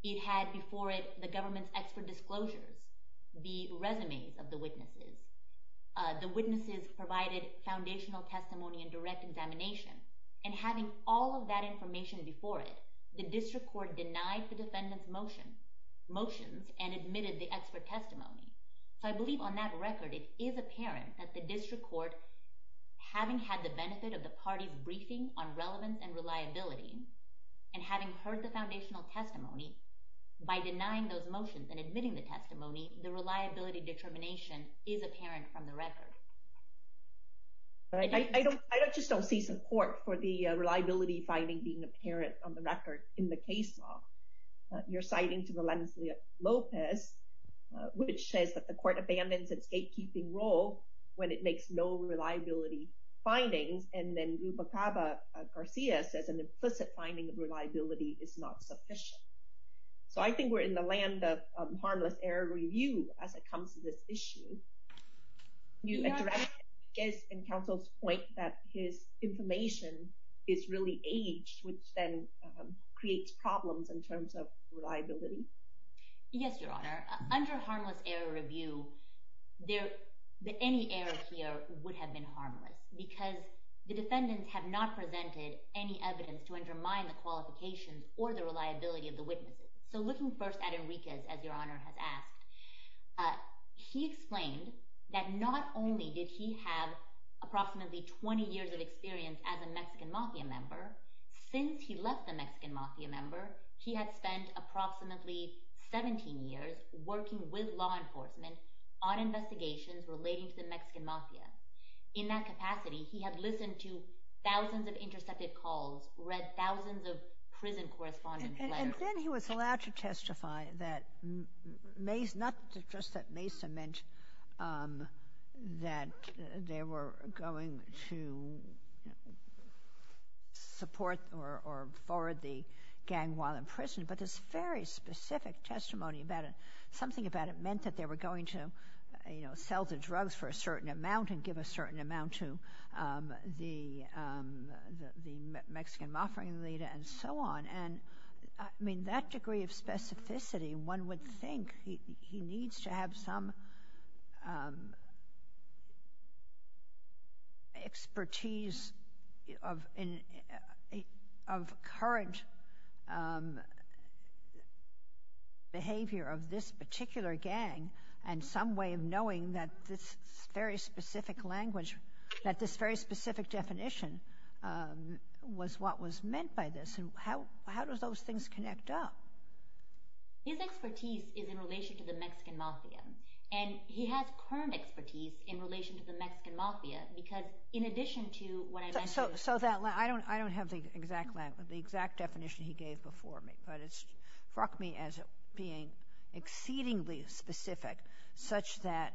It had before it the government's expert disclosures, the resumes of the witnesses. The witnesses provided foundational testimony and direct examination. And having all of that information before it, the district court denied the defendant's motions and admitted the expert testimony. So I believe on that record, it is apparent that the district court, having had the benefit of the party's briefing on relevance and reliability, and having heard the foundational testimony, by denying those motions and admitting the testimony, the reliability determination is apparent from the record. I just don't see support for the reliability finding being apparent on the record in the case law. You're citing to Valencia Lopez, which says that the court abandons its gatekeeping role when it makes no reliability findings. And then Ruba Caba Garcia says an implicit finding of reliability is not sufficient. So I think we're in the land of harmless error review as it comes to this issue. Can you address Enriquez and counsel's point that his information is really aged, which then creates problems in terms of reliability? Yes, Your Honor. Under harmless error review, any error here would have been harmless because the defendants have not presented any evidence to undermine the qualifications or the reliability of the witnesses. So looking first at Enriquez, as Your Honor has asked, he explained that not only did he have approximately 20 years of experience as a Mexican Mafia member, since he left the Mexican Mafia member, he had spent approximately 17 years working with law enforcement on investigations relating to the Mexican Mafia. In that capacity, he had listened to thousands of intercepted calls, read thousands of prison correspondence letters. And then he was allowed to testify that not just that Mesa meant that they were going to support or forward the gang while in prison, but this very specific testimony about it, something about it meant that they were going to, you know, sell the drugs for a certain amount and give a certain amount to the Mexican Mafia leader and so on. And, I mean, that degree of specificity, one would think he needs to have some expertise of current behavior of this particular gang and some way of knowing that this very specific language, that this very specific definition was what was meant by this. How do those things connect up? His expertise is in relation to the Mexican Mafia and he has current expertise in relation to the Mexican Mafia because in addition to what I mentioned... So I don't have the exact definition he gave before me, but it struck me as being exceedingly specific such that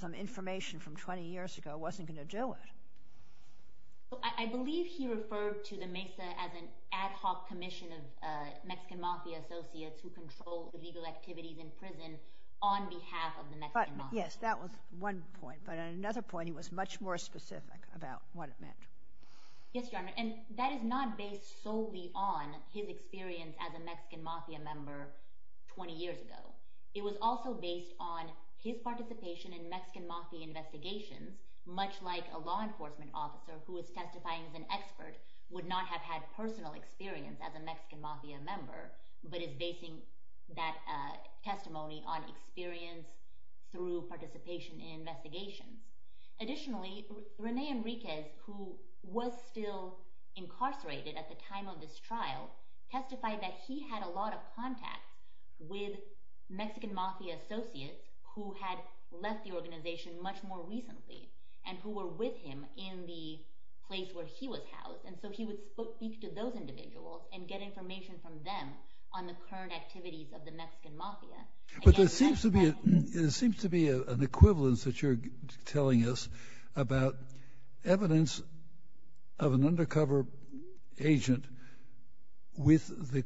some information from 20 years ago wasn't going to do it. I believe he referred to the Mesa as an ad hoc commission of Mexican Mafia associates who control the legal activities in prison on behalf of the Mexican Mafia. Yes, that was one point, but another point, he was much more specific about what it meant. Yes, Your Honor, and that is not based solely on his experience as a Mexican Mafia member 20 years ago. It was also based on his participation in Mexican Mafia investigations, much like a law enforcement officer who is testifying as an expert would not have had personal experience as a Mexican Mafia member, but is basing that testimony on experience through participation in investigations. Additionally, Rene Enriquez, who was still incarcerated at the time of this trial, testified that he had a lot of contact with Mexican Mafia associates who had left the organization much more recently and who were with him in the place where he was housed, and so he would speak to those individuals and get information from them on the current activities of the Mexican Mafia. But there seems to be an equivalence that you're telling us about evidence of an undercover agent with the...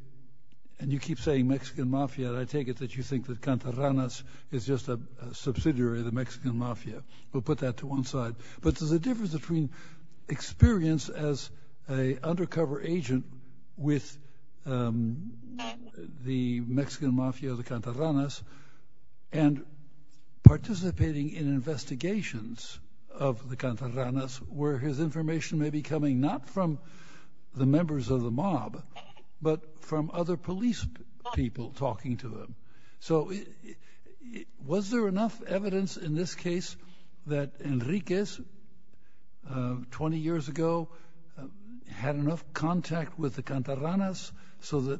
And you keep saying Mexican Mafia, and I take it that you think that Cantarranas is just a subsidiary of the Mexican Mafia. We'll put that to one side. But there's a difference between experience as an undercover agent with the Mexican Mafia or the Cantarranas and participating in investigations of the Cantarranas where his information may be coming not from the members of the mob, but from other police people talking to him. So was there enough evidence in this case that Enriquez, 20 years ago, had enough contact with the Cantarranas so that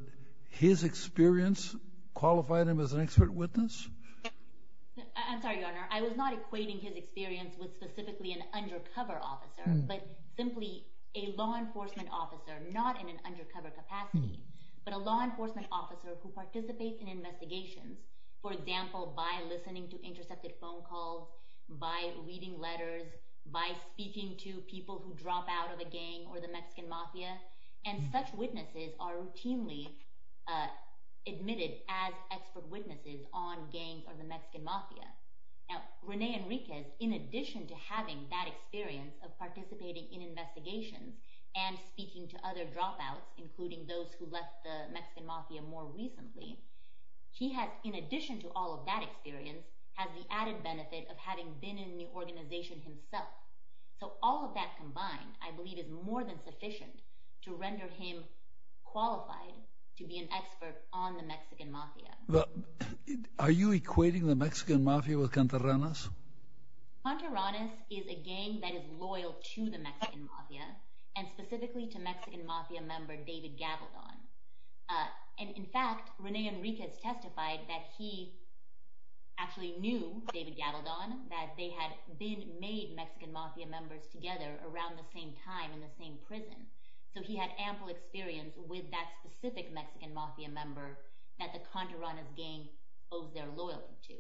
his experience qualified him as an expert witness? I'm sorry, Your Honor. I was not equating his experience with specifically an undercover officer, but simply a law enforcement officer, not in an undercover capacity, but a law enforcement officer who participates in investigations, for example, by listening to intercepted phone calls, by reading letters, by speaking to people who drop out of a gang or the Mexican Mafia. And such witnesses are routinely admitted as expert witnesses on gangs or the Mexican Mafia. Now, Rene Enriquez, in addition to having that experience of participating in investigations and speaking to other dropouts, including those who left the Mexican Mafia more recently, he has, in addition to all of that experience, has the added benefit of having been in the organization himself. So all of that combined, I believe, is more than sufficient to render him qualified to be an expert on the Mexican Mafia. Are you equating the Mexican Mafia with Cantarranas? Cantarranas is a gang that is loyal to the Mexican Mafia and specifically to Mexican Mafia member David Gavaldon. And in fact, Rene Enriquez testified that he actually knew David Gavaldon, that they had been made Mexican Mafia members together around the same time in the same prison. So he had ample experience with that specific Mexican Mafia member that the Cantarranas gang owes their loyalty to.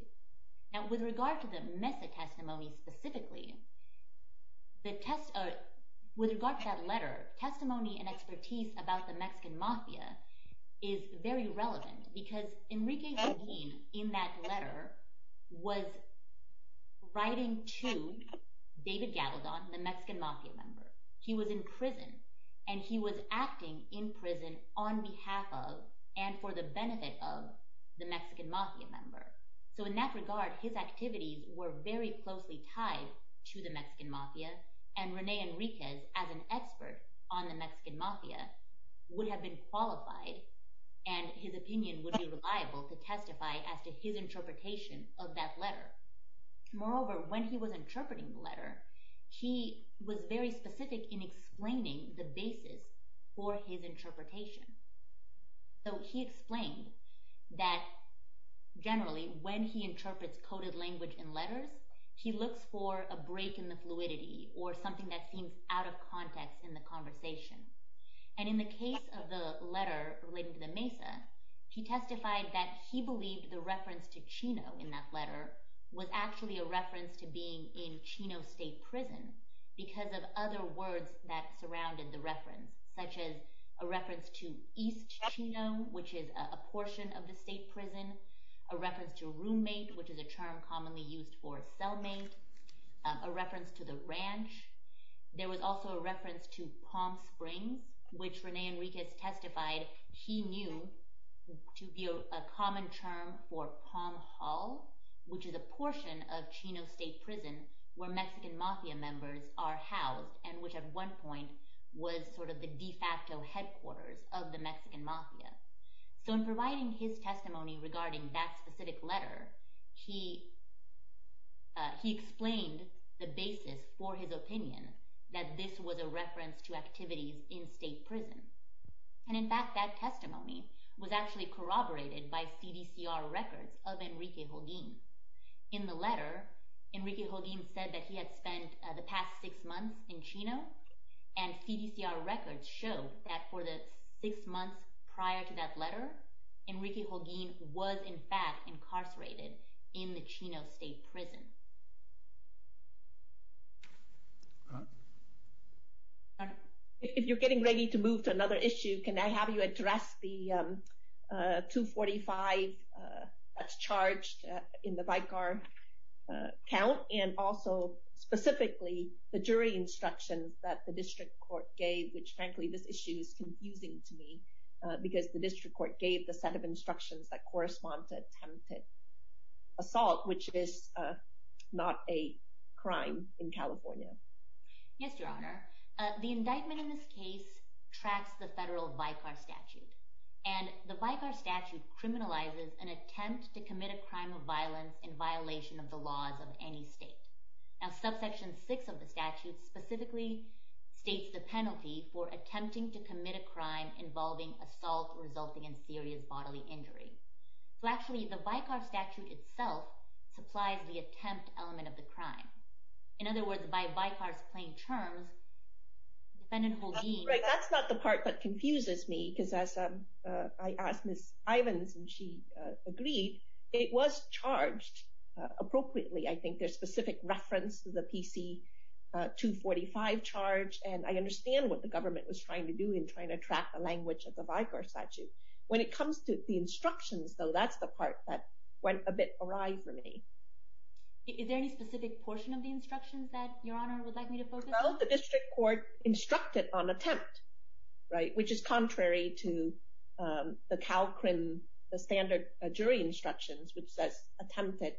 Now, with regard to the Mesa testimony specifically, with regard to that letter, testimony and expertise about the Mexican Mafia is very relevant because Enriquez, in that letter, was writing to David Gavaldon, the Mexican Mafia member. He was in prison, and he was acting in prison on behalf of and for the benefit of the Mexican Mafia member. So in that regard, his activities were very closely tied to the Mexican Mafia, and Rene Enriquez, as an expert on the Mexican Mafia, would have been qualified and his opinion would be reliable to testify as to his interpretation of that letter. Moreover, when he was interpreting the letter, he was very specific in explaining the basis for his interpretation. So he explained that, generally, when he interprets coded language in letters, he looks for a break in the fluidity, or something that seems out of context in the conversation. And in the case of the letter related to the Mesa, he testified that he believed the reference to Chino in that letter was actually a reference to being in Chino State Prison because of other words that surrounded the reference, such as a reference to East Chino, which is a portion of the state prison, a reference to roommate, which is a term commonly used for cellmate, a reference to the ranch. There was also a reference to Palm Springs, which Rene Enriquez testified he knew to be a common term for Palm Hall, which is a portion of Chino State Prison where Mexican Mafia members are housed, and which at one point was sort of the de facto headquarters of the Mexican Mafia. So in providing his testimony regarding that specific letter, he explained the basis for his opinion that this was a reference to activities in state prison. And in fact, that testimony was actually corroborated by CDCR records of Enrique Joaquin. In the letter, Enrique Joaquin said that he had spent the past six months in Chino, and CDCR records show that for the six months prior to that letter, Enrique Joaquin was in fact incarcerated in the Chino State Prison. If you're getting ready to move to another issue, can I have you address the 245 that's charged in the Vicar count and also specifically the jury instructions that the district court gave, which frankly this issue is confusing to me, because the district court gave the set of instructions that correspond to attempted assault, which is not a crime in California. Yes, Your Honor. The indictment in this case tracks the federal Vicar statute, and the Vicar statute criminalizes an attempt to commit a crime of violence in violation of the laws of any state. Now, subsection six of the statute specifically states the penalty for attempting to commit a crime involving assault resulting in serious bodily injury. So actually, the Vicar statute itself supplies the attempt element of the crime. In other words, by Vicar's plain terms, defendant Holguin… That's not the part that confuses me, because as I asked Ms. Ivins, and she agreed, it was charged appropriately. I think there's specific reference to the PC 245 charge, and I understand what the government was trying to do in trying to track the language of the Vicar statute. When it comes to the instructions, though, that's the part that went a bit awry for me. Is there any specific portion of the instructions that Your Honor would like me to focus on? Well, the district court instructed on attempt, right, which is contrary to the CALCRIN, the standard jury instructions, which says attempted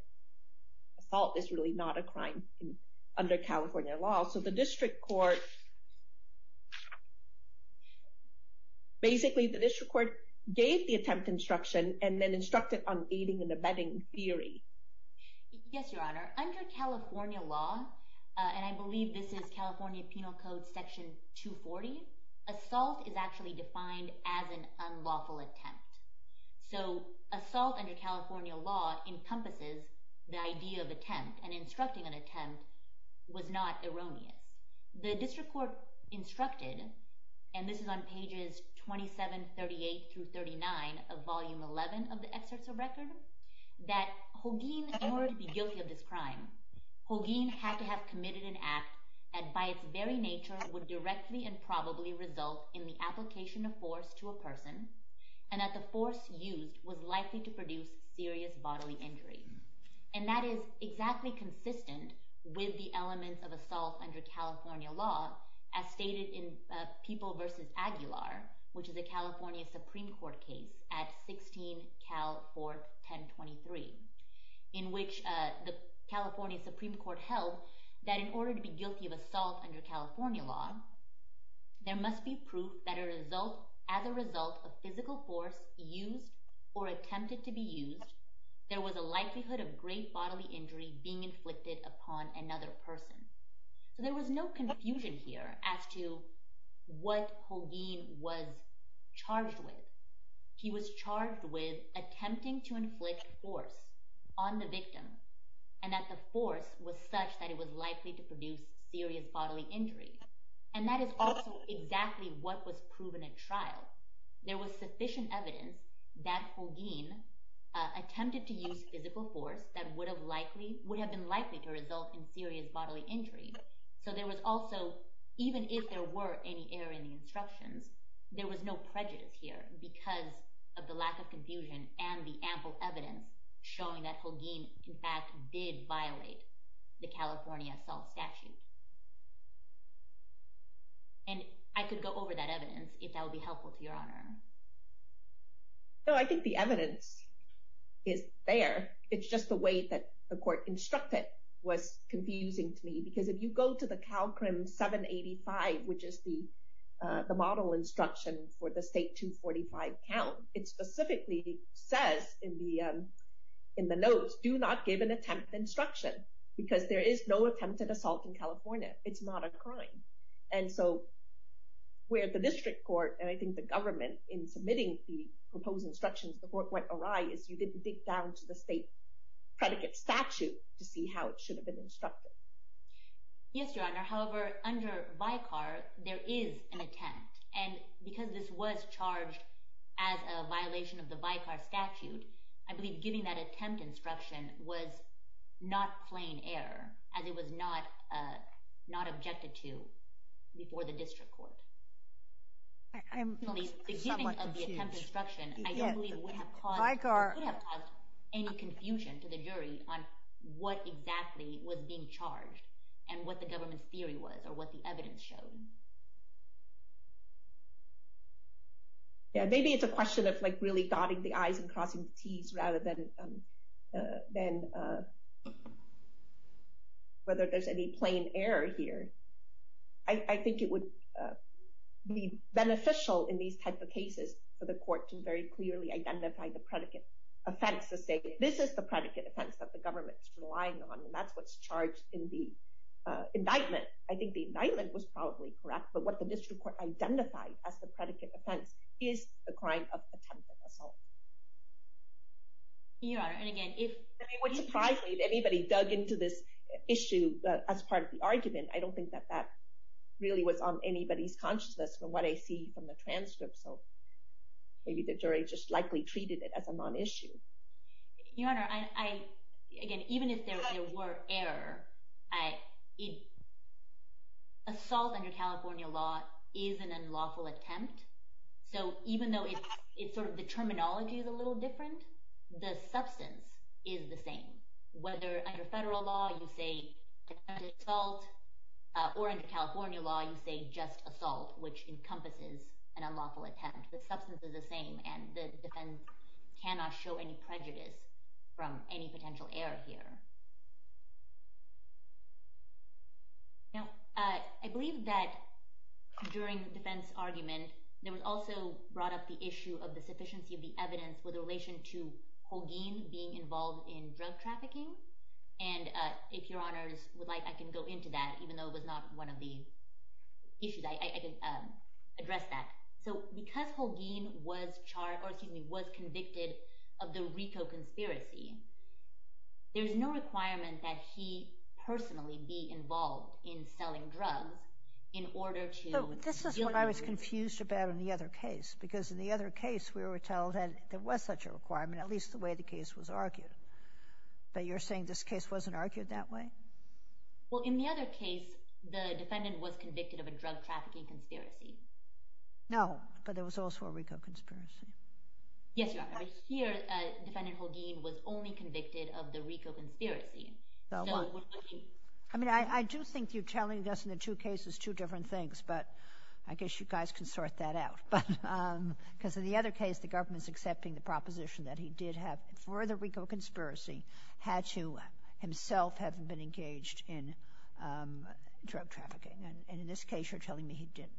assault is really not a crime under California law. So the district court… Basically, the district court gave the attempt instruction and then instructed on aiding and abetting theory. Yes, Your Honor. Under California law, and I believe this is California Penal Code Section 240, assault is actually defined as an unlawful attempt. So assault under California law encompasses the idea of attempt, and instructing on attempt was not erroneous. The district court instructed, and this is on pages 27, 38 through 39 of Volume 11 of the Excerpts of Record, that Holguin, in order to be guilty of this crime, Holguin had to have committed an act that, by its very nature, would directly and probably result in the application of force to a person, and that the force used was likely to produce serious bodily injury. And that is exactly consistent with the elements of assault under California law, as stated in People v. Aguilar, which is a California Supreme Court case at 16 CAL 41023, in which the California Supreme Court held that in order to be guilty of assault under California law, there must be proof that as a result of physical force used or attempted to be used, there was a likelihood of great bodily injury being inflicted upon another person. So there was no confusion here as to what Holguin was charged with. He was charged with attempting to inflict force on the victim, and that the force was such that it was likely to produce serious bodily injury. And that is also exactly what was proven at trial. There was sufficient evidence that Holguin attempted to use physical force that would have been likely to result in serious bodily injury. So there was also, even if there were any error in the instructions, there was no prejudice here because of the lack of confusion and the ample evidence showing that Holguin, in fact, did violate the California assault statute. And I could go over that evidence if that would be helpful to Your Honor. No, I think the evidence is there. It's just the way that the court instructed was confusing to me. Because if you go to the CALCRM 785, which is the model instruction for the State 245 count, it specifically says in the notes, do not give an attempt instruction because there is no attempted assault in California. It's not a crime. And so where the district court, and I think the government, in submitting the proposed instructions before it went awry is you didn't dig down to the state predicate statute to see how it should have been instructed. Yes, Your Honor. However, under VICAR, there is an attempt. And because this was charged as a violation of the VICAR statute, I believe giving that attempt instruction was not plain error as it was not objected to before the district court. I'm somewhat confused. I don't believe it would have caused any confusion to the jury on what exactly was being charged and what the government's theory was or what the evidence showed. Maybe it's a question of really dotting the i's and crossing the t's rather than whether there's any plain error here. I think it would be beneficial in these types of cases for the court to very clearly identify the predicate offense to say this is the predicate offense that the government's relying on and that's what's charged in the indictment. I think the indictment was probably correct, but what the district court identified as the predicate offense is the crime of attempted assault. Your Honor, and again, if... It would surprise me if anybody dug into this issue as part of the argument. I don't think that that really was on anybody's consciousness from what I see from the transcript, so maybe the jury just likely treated it as a non-issue. Your Honor, again, even if there were error, assault under California law is an unlawful attempt, so even though the terminology is a little different, the substance is the same. Whether under federal law you say attempted assault or under California law you say just assault, which encompasses an unlawful attempt, the substance is the same and the defense cannot show any prejudice from any potential error here. Now, I believe that during the defense argument there was also brought up the issue of the sufficiency of the evidence with relation to Holguin being involved in drug trafficking, and if Your Honors would like, I can go into that, even though it was not one of the issues. I can address that. So because Holguin was convicted of the Rico conspiracy, there's no requirement that he personally be involved in selling drugs in order to... This is what I was confused about in the other case, because in the other case we were told that there was such a requirement, at least the way the case was argued, but you're saying this case wasn't argued that way? Well, in the other case, the defendant was convicted of a drug trafficking conspiracy. No, but there was also a Rico conspiracy. Yes, Your Honor. Here, defendant Holguin was only convicted of the Rico conspiracy. I mean, I do think you're telling us in the two cases two different things, but I guess you guys can sort that out. Because in the other case, the government's accepting the proposition that he did have, for the Rico conspiracy, had to himself have been engaged in drug trafficking, and in this case you're telling me he didn't.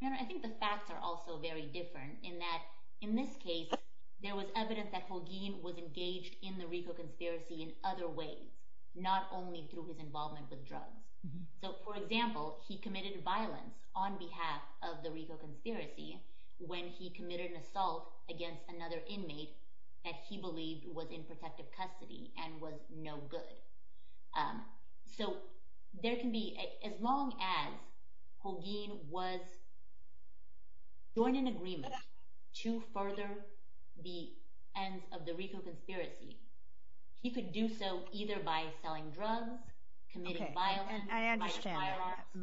Your Honor, I think the facts are also very different in that in this case there was evidence that Holguin was engaged in the Rico conspiracy in other ways, not only through his involvement with drugs. So, for example, he committed violence on behalf of the Rico conspiracy when he committed an assault against another inmate that he believed was in protective custody and was no good. So there can be, as long as Holguin was joined in agreement to further the ends of the Rico conspiracy, he could do so either by selling drugs, committing violence. Okay, I understand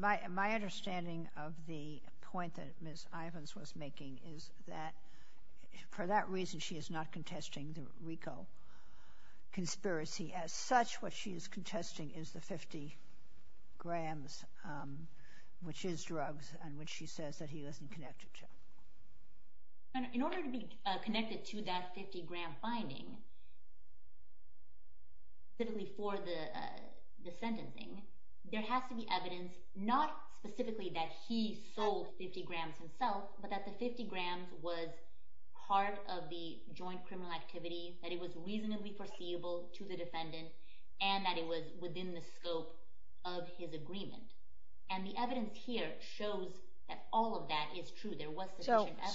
that. My understanding of the point that Ms. Ivins was making is that for that reason she is not contesting the Rico conspiracy as such. What she is contesting is the 50 grams, which is drugs, and which she says that he isn't connected to. Your Honor, in order to be connected to that 50-gram finding, specifically for the sentencing, there has to be evidence not specifically that he sold 50 grams himself, but that the 50 grams was part of the joint criminal activity, that it was reasonably foreseeable to the defendant, and that it was within the scope of his agreement. And the evidence here shows that all of that is true.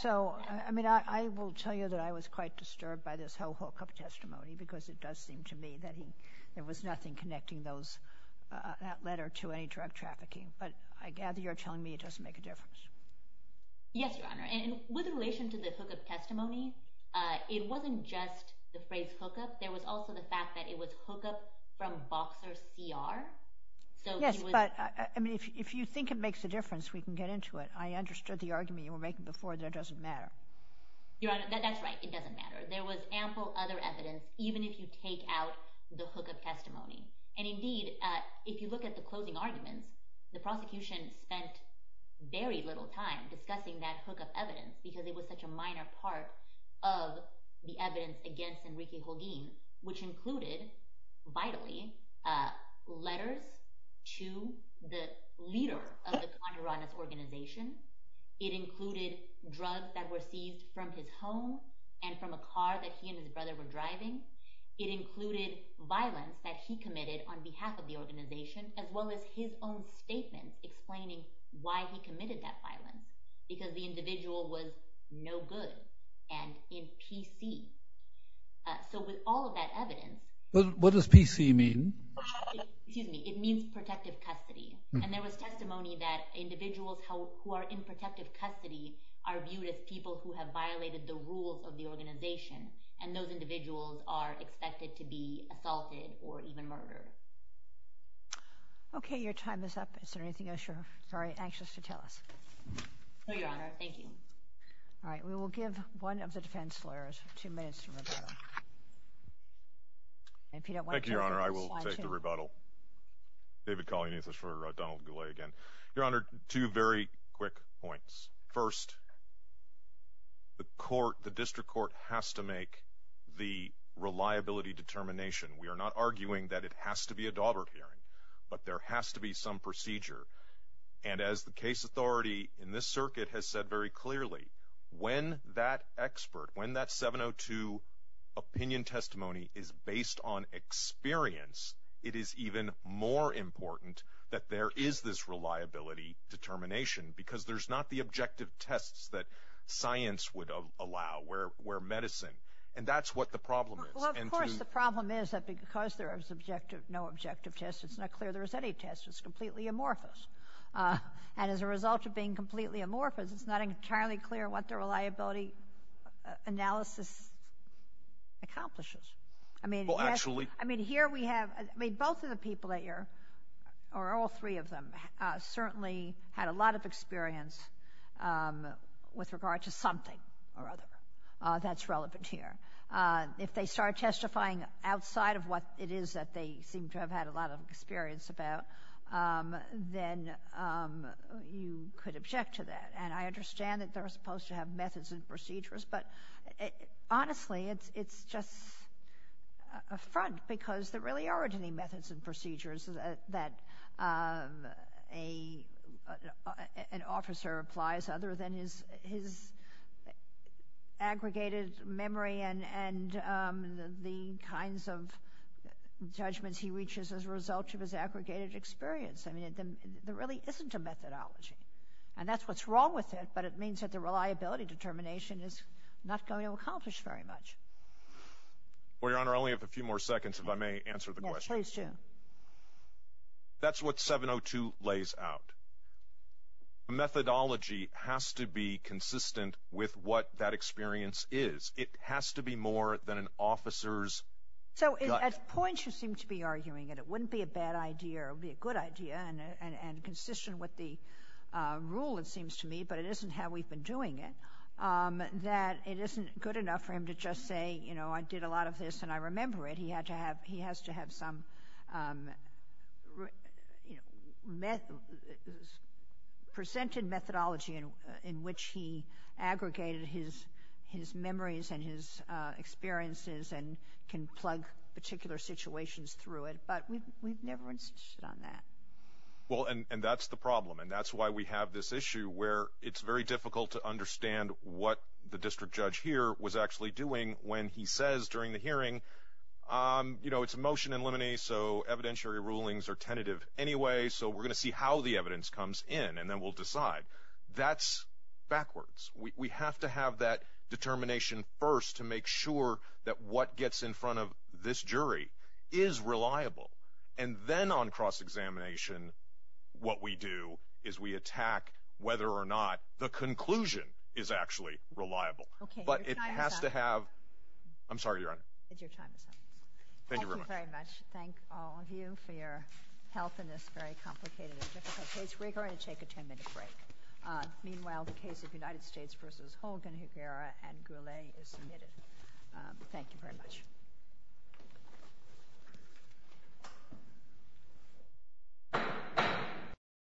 So, I mean, I will tell you that I was quite disturbed by this whole hookup testimony, because it does seem to me that there was nothing connecting that letter to any drug trafficking. But I gather you're telling me it doesn't make a difference. Yes, Your Honor. And with relation to the hookup testimony, it wasn't just the phrase hookup. There was also the fact that it was hookup from Boxer's ER. Yes, but if you think it makes a difference, we can get into it. I understood the argument you were making before. That doesn't matter. Your Honor, that's right. It doesn't matter. There was ample other evidence, even if you take out the hookup testimony. And indeed, if you look at the closing argument, the prosecution spent very little time discussing that hookup evidence because it was such a minor part of the evidence against Enrique Jolín, which included, vitally, letters to the leader of the Contrabandes organization. It included drugs that were seized from his home and from a car that he and his brother were driving. It included violence that he committed on behalf of the organization, as well as his own statement explaining why he committed that violence, because the individual was no good and in PC. So with all of that evidence— Excuse me. It means protective custody. And there was testimony that individuals who are in protective custody are viewed as people who have violated the rules of the organization, and those individuals are expected to be assaulted or even murdered. Okay. Your time is up. Is there anything else you're anxious to tell us? No, Your Honor. Thank you. All right. We will give one of the defense lawyers two minutes to rebuttal. Thank you, Your Honor. I will take the rebuttal. David Colony, this is for Donald Goulet again. Your Honor, two very quick points. First, the court, the district court, has to make the reliability determination. We are not arguing that it has to be a daughter hearing, but there has to be some procedure. And as the case authority in this circuit has said very clearly, when that expert, when that 702 opinion testimony is based on experience, it is even more important that there is this reliability determination because there's not the objective tests that science would allow or medicine. And that's what the problem is. Well, of course the problem is that because there is no objective test, it's not clear there is any test. It's completely amorphous. And as a result of being completely amorphous, it's not entirely clear what the reliability analysis accomplishes. Well, actually— I mean, here we have—both of the people that you're—or all three of them certainly had a lot of experience with regard to something or other that's relevant here. If they start testifying outside of what it is that they seem to have had a lot of experience about, then you could object to that. And I understand that they're supposed to have methods and procedures, but honestly it's just a front because there really aren't any methods and procedures that an officer applies other than his aggregated memory and the kinds of judgments he reaches as a result of his aggregated experience. I mean, there really isn't a methodology. And that's what's wrong with it, but it means that the reliability determination is not going to accomplish very much. Well, Your Honor, I only have a few more seconds if I may answer the question. Yes, please do. That's what 702 lays out. A methodology has to be consistent with what that experience is. It has to be more than an officer's gut. So at points you seem to be arguing that it wouldn't be a bad idea or it would be a good idea and consistent with the rule, it seems to me, but it isn't how we've been doing it, that it isn't good enough for him to just say, you know, I did a lot of this and I remember it. He has to have some presented methodology in which he aggregated his memories and his experiences and can plug particular situations through it. But we've never insisted on that. Well, and that's the problem, and that's why we have this issue where it's very difficult to understand what the district judge here was actually doing when he says during the hearing, you know, it's a motion in limine, so evidentiary rulings are tentative anyway, so we're going to see how the evidence comes in and then we'll decide. That's backwards. We have to have that determination first to make sure that what gets in front of this jury is reliable, and then on cross-examination what we do is we attack whether or not the conclusion is actually reliable. But it has to have—I'm sorry, Your Honor. Your time is up. Thank you very much. Thank you very much. Thank all of you for your help in this very complicated and difficult case. We're going to take a 10-minute break. Meanwhile, the case of United States v. Hogan, Higuera, and Goulet is submitted. Thank you very much.